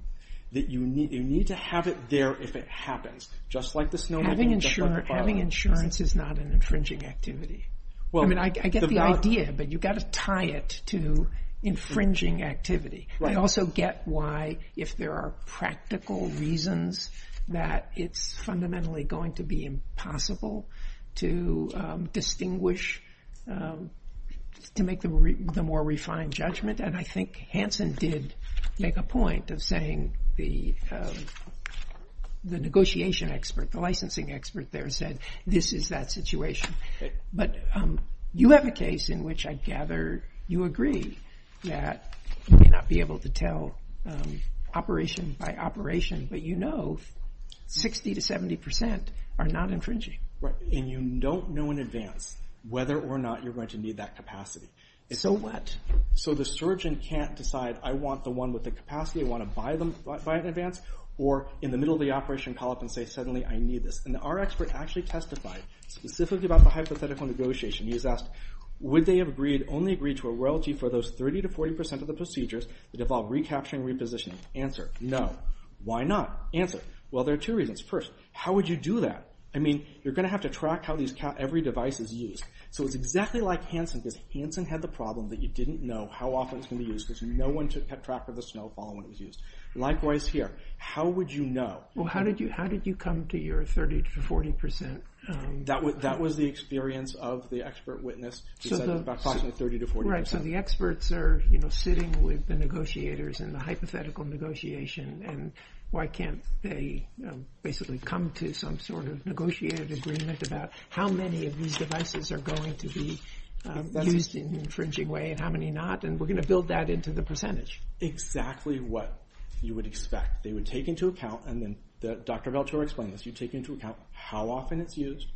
that you need to have it there if it happens. Just like the snow. Having insurance is not an infringing activity. I mean I get the idea but you got to tie it to infringing activity. I also get why if there are practical reasons that it's fundamentally going to be impossible to distinguish to make the more refined judgment. And I think Hansen did make a point of saying the negotiation expert, the licensing expert there said this is that situation. But you have a case in which I gather you agree that you may not be able to tell operation by operation but you know 60 to 70 percent are not infringing. And you don't know in advance whether or not you're going to need that capacity. So what? So the surgeon can't decide I want the one with the capacity, I want to buy it in advance or in the middle of the operation call up and say suddenly I need this. And our expert actually testified specifically about the hypothetical negotiation. He's asked would they have only agreed to a royalty for those 30 to 40 percent of the procedures that involve recapturing and repositioning? Answer, no. Why not? Answer, well there are two reasons. First, how would you do that? You're going to have to track how every device is used. So it's exactly like Hansen because Hansen had the problem that you didn't know how often it was going to be used because no one kept track of the snowfall when it was used. Likewise here, how would you know? Well how did you come to your 30 to 40 percent? That was the experience of the expert witness. Right, so the experts are sitting with the negotiators in the hypothetical negotiation and why can't they basically come to some sort of negotiated agreement about how many of these devices are going to be used in an infringing way and how many not? And we're going to build that into the percentage. Exactly what you would expect. They would take into account and then, Dr. Veltura explained this, you take into account how often it's used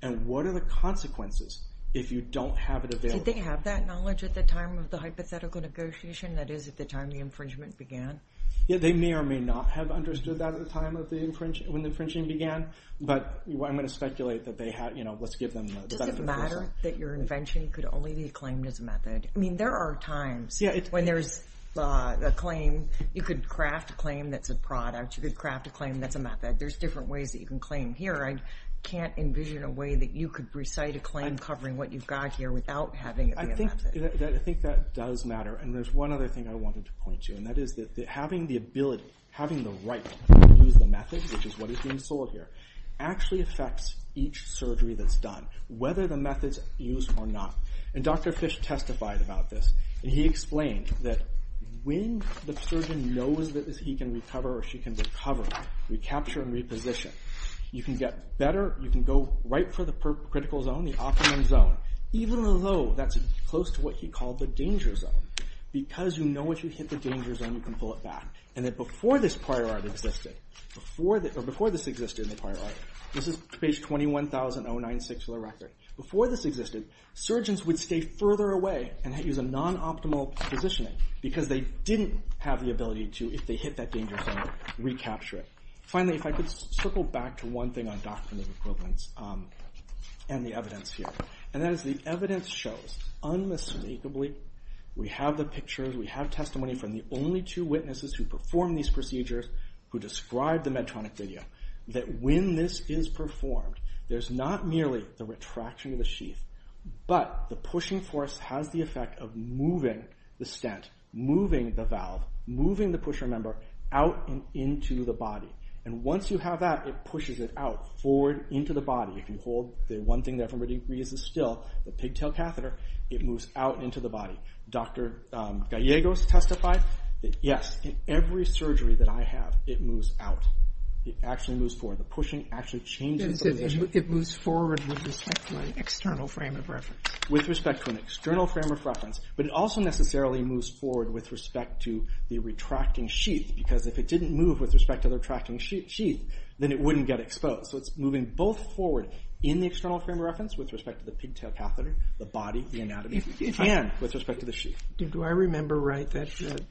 and what are the consequences if you don't have it available. Did they have that knowledge at the time of the hypothetical negotiation, that is at the time the infringement began? Yeah, they may or may not have understood that at the time of the infringing, when the infringing began, but I'm going to speculate that they had, you know, let's give them the benefit of the doubt. Does it matter that your invention could only be claimed as a method? I mean there are times when there's a claim, you could craft a claim that's a product, you could claim here, I can't envision a way that you could recite a claim covering what you've got here without having it invented. I think that does matter and there's one other thing I wanted to point to and that is that having the ability, having the right to use the method, which is what is being sold here, actually affects each surgery that's done whether the method's used or not and Dr. Fish testified about this and he explained that when the surgeon knows that he can recover or she can recover recapture and reposition you can get better, you can go right for the critical zone, the optimum zone, even though that's close to what he called the danger zone because you know if you hit the danger zone you can pull it back and that before this prior art existed, before this existed in the prior art, this is page 21096 for the record before this existed, surgeons would stay further away and use a non-optimal positioning because they didn't have the ability to, if finally if I could circle back to one thing on doctrinal equivalence and the evidence here and that is the evidence shows unmistakably, we have the pictures, we have testimony from the only two witnesses who performed these procedures who described the Medtronic video that when this is performed there's not merely the retraction of the sheath, but the pushing force has the effect of moving the stent, moving the valve, moving the pusher member out and into the body and once you have that, it pushes it out forward into the body, if you hold the one thing that everybody agrees is still the pigtail catheter, it moves out into the body. Dr. Gallegos testified that yes in every surgery that I have it moves out, it actually moves forward, the pushing actually changes the position It moves forward with respect to an external frame of reference With respect to an external frame of reference but it also necessarily moves forward with respect to the retracting sheath because if it didn't move with respect to the retracting sheath then it wouldn't get exposed so it's moving both forward in the external frame of reference with respect to the pigtail catheter the body, the anatomy and with respect to the sheath. Do I remember right that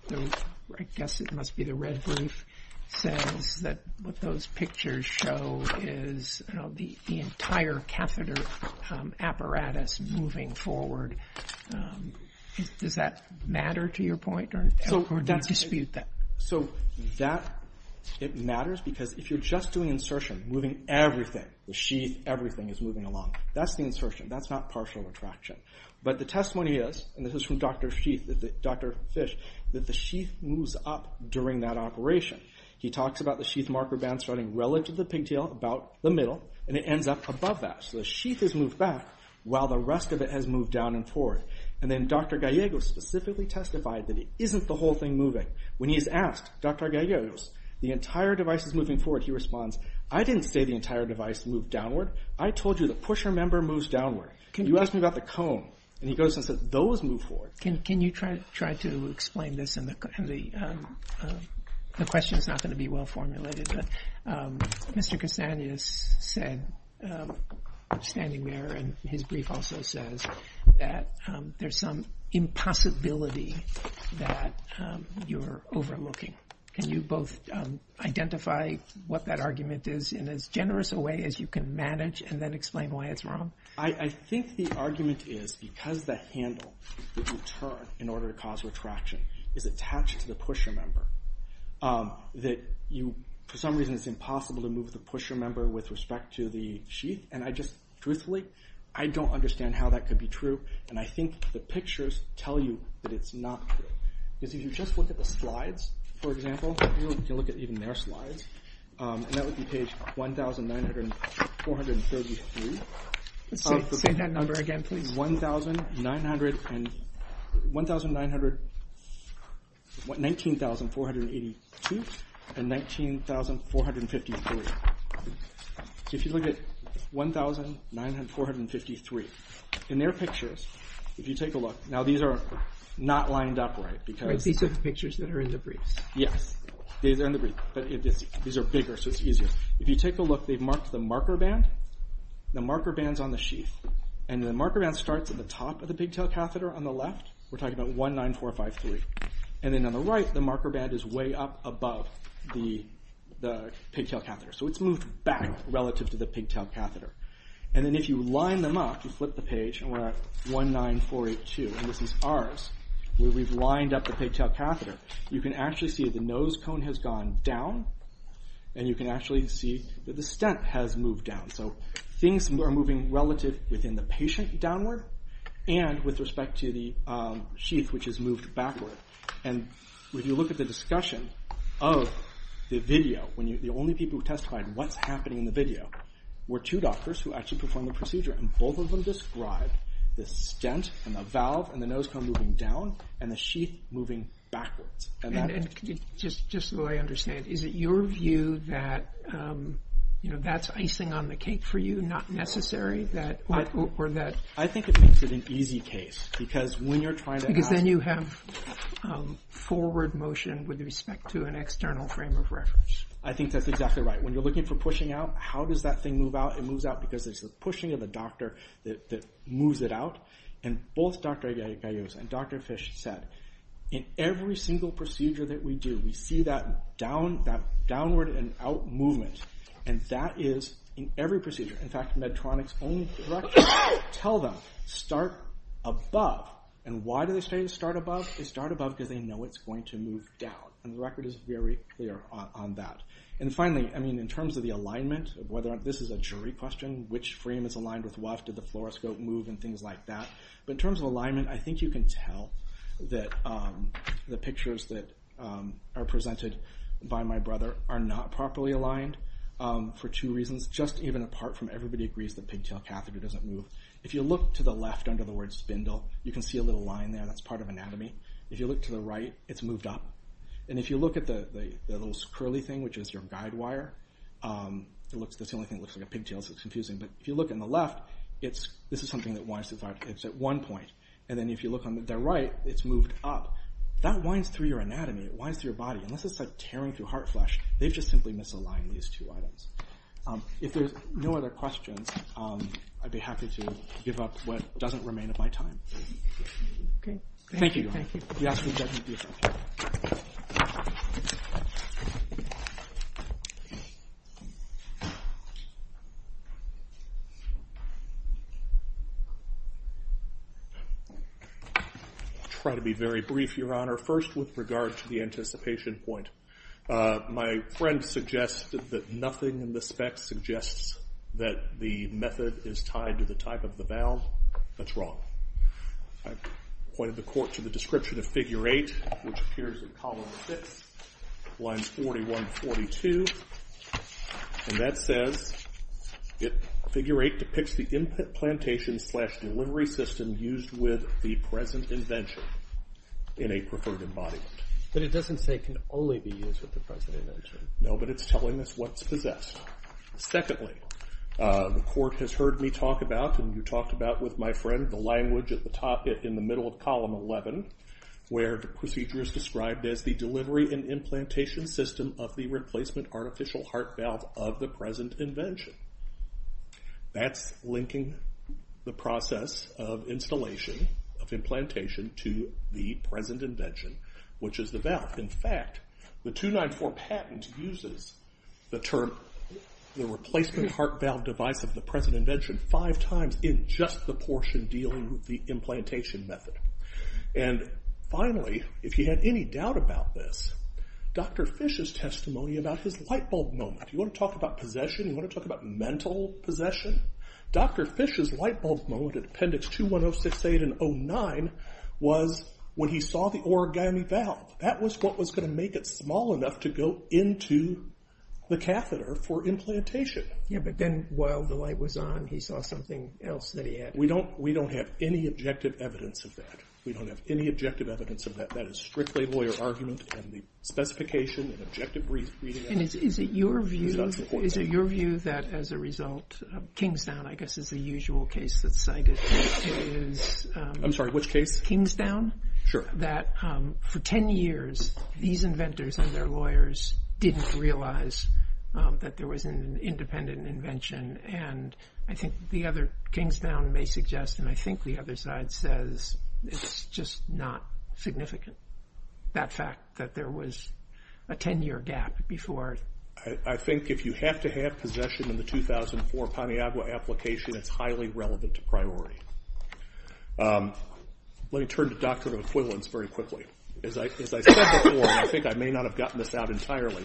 I guess it must be the red brief says that what those pictures show is the entire catheter apparatus moving forward does that matter to your point or do you dispute that? It matters because if you're just doing insertion, moving everything the sheath, everything is moving along that's the insertion, that's not partial retraction but the testimony is and this is from Dr. Fish that the sheath moves up during that operation. He talks about the sheath marker band starting relative to the pigtail about the middle and it ends up above that. So the sheath has moved back while the rest of it has moved down and forward and then Dr. Gallegos specifically testified that it isn't the whole thing moving when he is asked, Dr. Gallegos the entire device is moving forward he responds, I didn't say the entire device moved downward, I told you the pusher member moves downward. You asked me about the cone and he goes and says those move forward Can you try to explain this and the question is not going to be well formulated but Mr. Casanias said standing there and his brief also says that there's some impossibility that you're overlooking. Can you both identify what that argument is in as generous a way as you can manage and then explain why it's wrong? I think the argument is because the handle that you turn in order to cause retraction is attached to the pusher member that you for some reason it's impossible to move the pusher member with respect to the sheath and I just truthfully I don't understand how that could be true and I think the pictures tell you that it's not true. Because if you just look at the slides for example if you look at even their slides that would be page 1,9433 Say that number again please 1,900 1,900 19,482 and 19,453 If you look at 1,9433 in their pictures if you take a look, now these are not lined up right because These are the pictures that are in the briefs Yes, these are in the briefs, but these are bigger so it's easier. If you take a look they've marked the marker band the marker band's on the sheath and the marker band starts at the top of the pigtail catheter on the left, we're talking about 1,9453 and then on the right the marker band is way up above the pigtail catheter so it's moved back relative to the pigtail catheter. And then if you line them up, you flip the page and we're at 1,9482 and this is ours, where we've lined up the pigtail catheter, you can actually see the nose cone has gone down and you can actually see that the stent has moved down so things are moving relative within the patient downward and with respect to the sheath which has moved backward. And when you look at the discussion of the video, the only people who testified what's happening in the video were two doctors who actually performed the procedure and both of them described the stent and the valve and the nose cone moving down and the sheath moving backwards. Just so I understand, is it your view that that's icing on the cake for you, not necessary? I think it makes it an easy case because when you're trying to have forward motion with respect to an external frame of reference. I think that's exactly right. When you're looking for pushing out, how does that thing move out? It moves out because it's the pushing of the doctor that moves it out and both Dr. Agayios and Dr. Fish said, in every single procedure that we do, we see that downward and out movement and that is in every procedure. In fact, Medtronic's own director tell them, start above and why do they say start above? They start above because they know it's going to move down and the record is very clear on that. Finally, in terms of the alignment, this is a jury question, which frame is aligned with what? Did the fluoroscope move and things like that? In terms of alignment, I think you can tell that the pictures that are presented by my brother are not properly aligned for two reasons. Just even apart from everybody agrees that the pigtail catheter doesn't move. If you look to the left under the word spindle, you can see a little line there that's part of anatomy. If you look to the right, it's moved up. If you look at the little curly thing, which is your guide wire, that's the only thing that looks like a pigtail so it's confusing, but if you look on the left, this is something that winds to the right. It's at one point and then if you look on the right, it's moved up. That winds through your anatomy. It winds through your body. Unless it's tearing through heart flesh, they've just simply misaligned these two items. If there's no other questions, I'd be happy to give up what doesn't remain of my time. Thank you, Your Honor. I'll try to be very brief, Your Honor. First, with regard to the anticipation point. My friend suggested that nothing in the specs suggests that the method is tied to the type of the valve. That's wrong. I've pointed the court to the description of Figure 8, which appears in Column 6, Lines 41 and 42. That says that Figure 8 depicts the implantation slash delivery system used with the present invention in a preferred embodiment. But it doesn't say it can only be used with the present invention. No, but it's telling us what's possessed. the court has heard me talk about, and you talked about with my friend, the language in the middle of Column 11 where the procedure is described as the delivery and implantation system of the replacement artificial heart valve of the present invention. That's linking the process of installation of implantation to the present invention, which is the valve. In fact, the 294 patent uses the term the replacement heart valve device of the present invention five times in just the portion dealing with the implantation method. And finally, if you had any doubt about this, Dr. Fish's testimony about his light bulb moment. You want to talk about possession? You want to talk about mental possession? Dr. Fish's light bulb moment in Appendix 21068 and 09 was when he saw the origami valve. That was what was going to make it small enough to go into the catheter for implantation. Yeah, but then while the light was on, he saw something else that he had. We don't have any objective evidence of that. We don't have any objective evidence of that. That is strictly lawyer argument and the specification and objective reading. And is it your view that as a result, Kingstown, I guess, is the usual case that's used. I'm sorry, which case? Kingstown. Sure. That for ten years, these inventors and their lawyers didn't realize that there was an independent invention and I think the other, Kingstown may suggest, and I think the other side says, it's just not significant. That fact that there was a ten year gap before. I think if you have to have possession in the 2004 Paniagua application, it's highly relevant to priority. Let me turn to Doctrine of Equivalence very quickly. As I said before, and I think I may not have gotten this out entirely,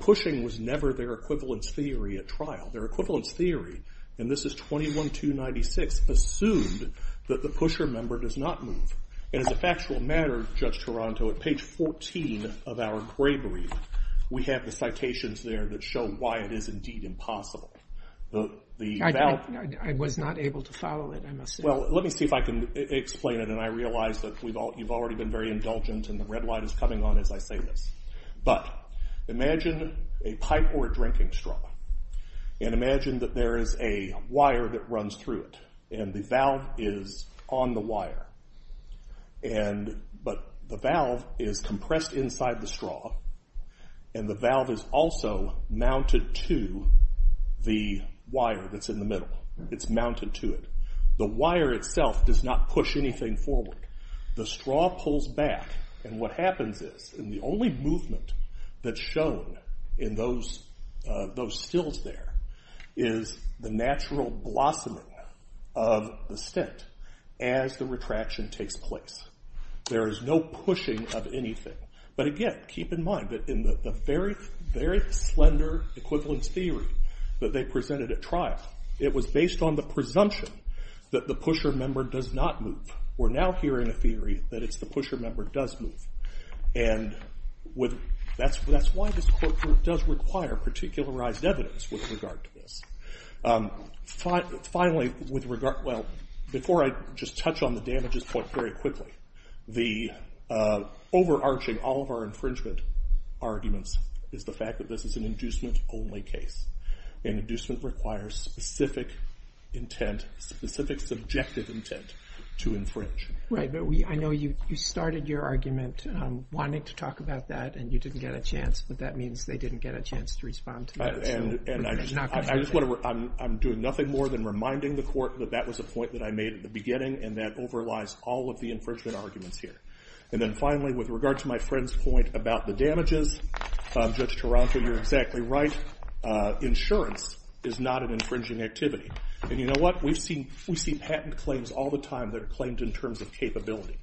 pushing was never their equivalence theory at trial. Their equivalence theory, and this is 21296, assumed that the pusher member does not move. And as a factual matter, Judge Taranto, at page 14 of our we have the citations there that show why it is indeed impossible. The valve... I was not able to follow it. Well, let me see if I can explain it and I realize that you've already been very indulgent and the red light is coming on as I say this. But, imagine a pipe or a drinking straw and imagine that there is a wire that runs through it and the valve is on the wire. But the valve is compressed inside the straw and the valve is also mounted to the wire that's in the middle. It's mounted to it. The wire itself does not push anything forward. The straw pulls back and what happens is, and the only movement that's shown in those stills there is the natural blossoming of the stent as the retraction takes place. There is no pushing of anything. But again, keep in mind that in the very, very slender equivalence theory that they presented at trial, it was based on the presumption that the pusher member does not move. We're now hearing a theory that it's the pusher member does move. And, that's why this court does require particularized evidence with regard to this. Finally, before I just touch on the damages point very quickly, the overarching, all is the fact that this is an inducement only case. An inducement requires specific intent, specific subjective intent to infringe. I know you started your argument wanting to talk about that and you didn't get a chance, but that means they didn't get a chance to respond to that. I'm doing nothing more than reminding the court that that was a point that I made at the beginning and that overlies all of the infringement arguments here. And then finally, with regard to my friend's point about the damages, Judge Taranto, you're exactly right. Insurance is not an infringing activity. And you know what? We see patent claims all the time that are claimed in terms of capability.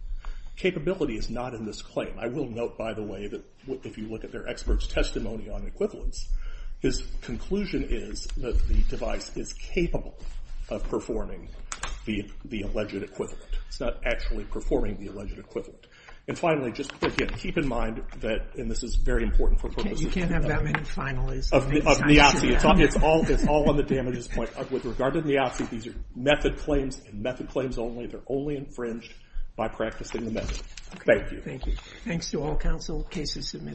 Capability is not in this claim. I will note, by the way, that if you look at their expert's testimony on equivalence, his conclusion is that the device is capable of performing the alleged equivalent. It's not actually performing the alleged equivalent. And finally, just again, keep in mind that, and this is very important for purposes of You can't have that many finalists. Of Niazi. It's all on the damages point. With regard to Niazi, these are method claims and method claims only. They're only infringed by practicing the method. Thank you. Thanks to all counsel. Case is submitted.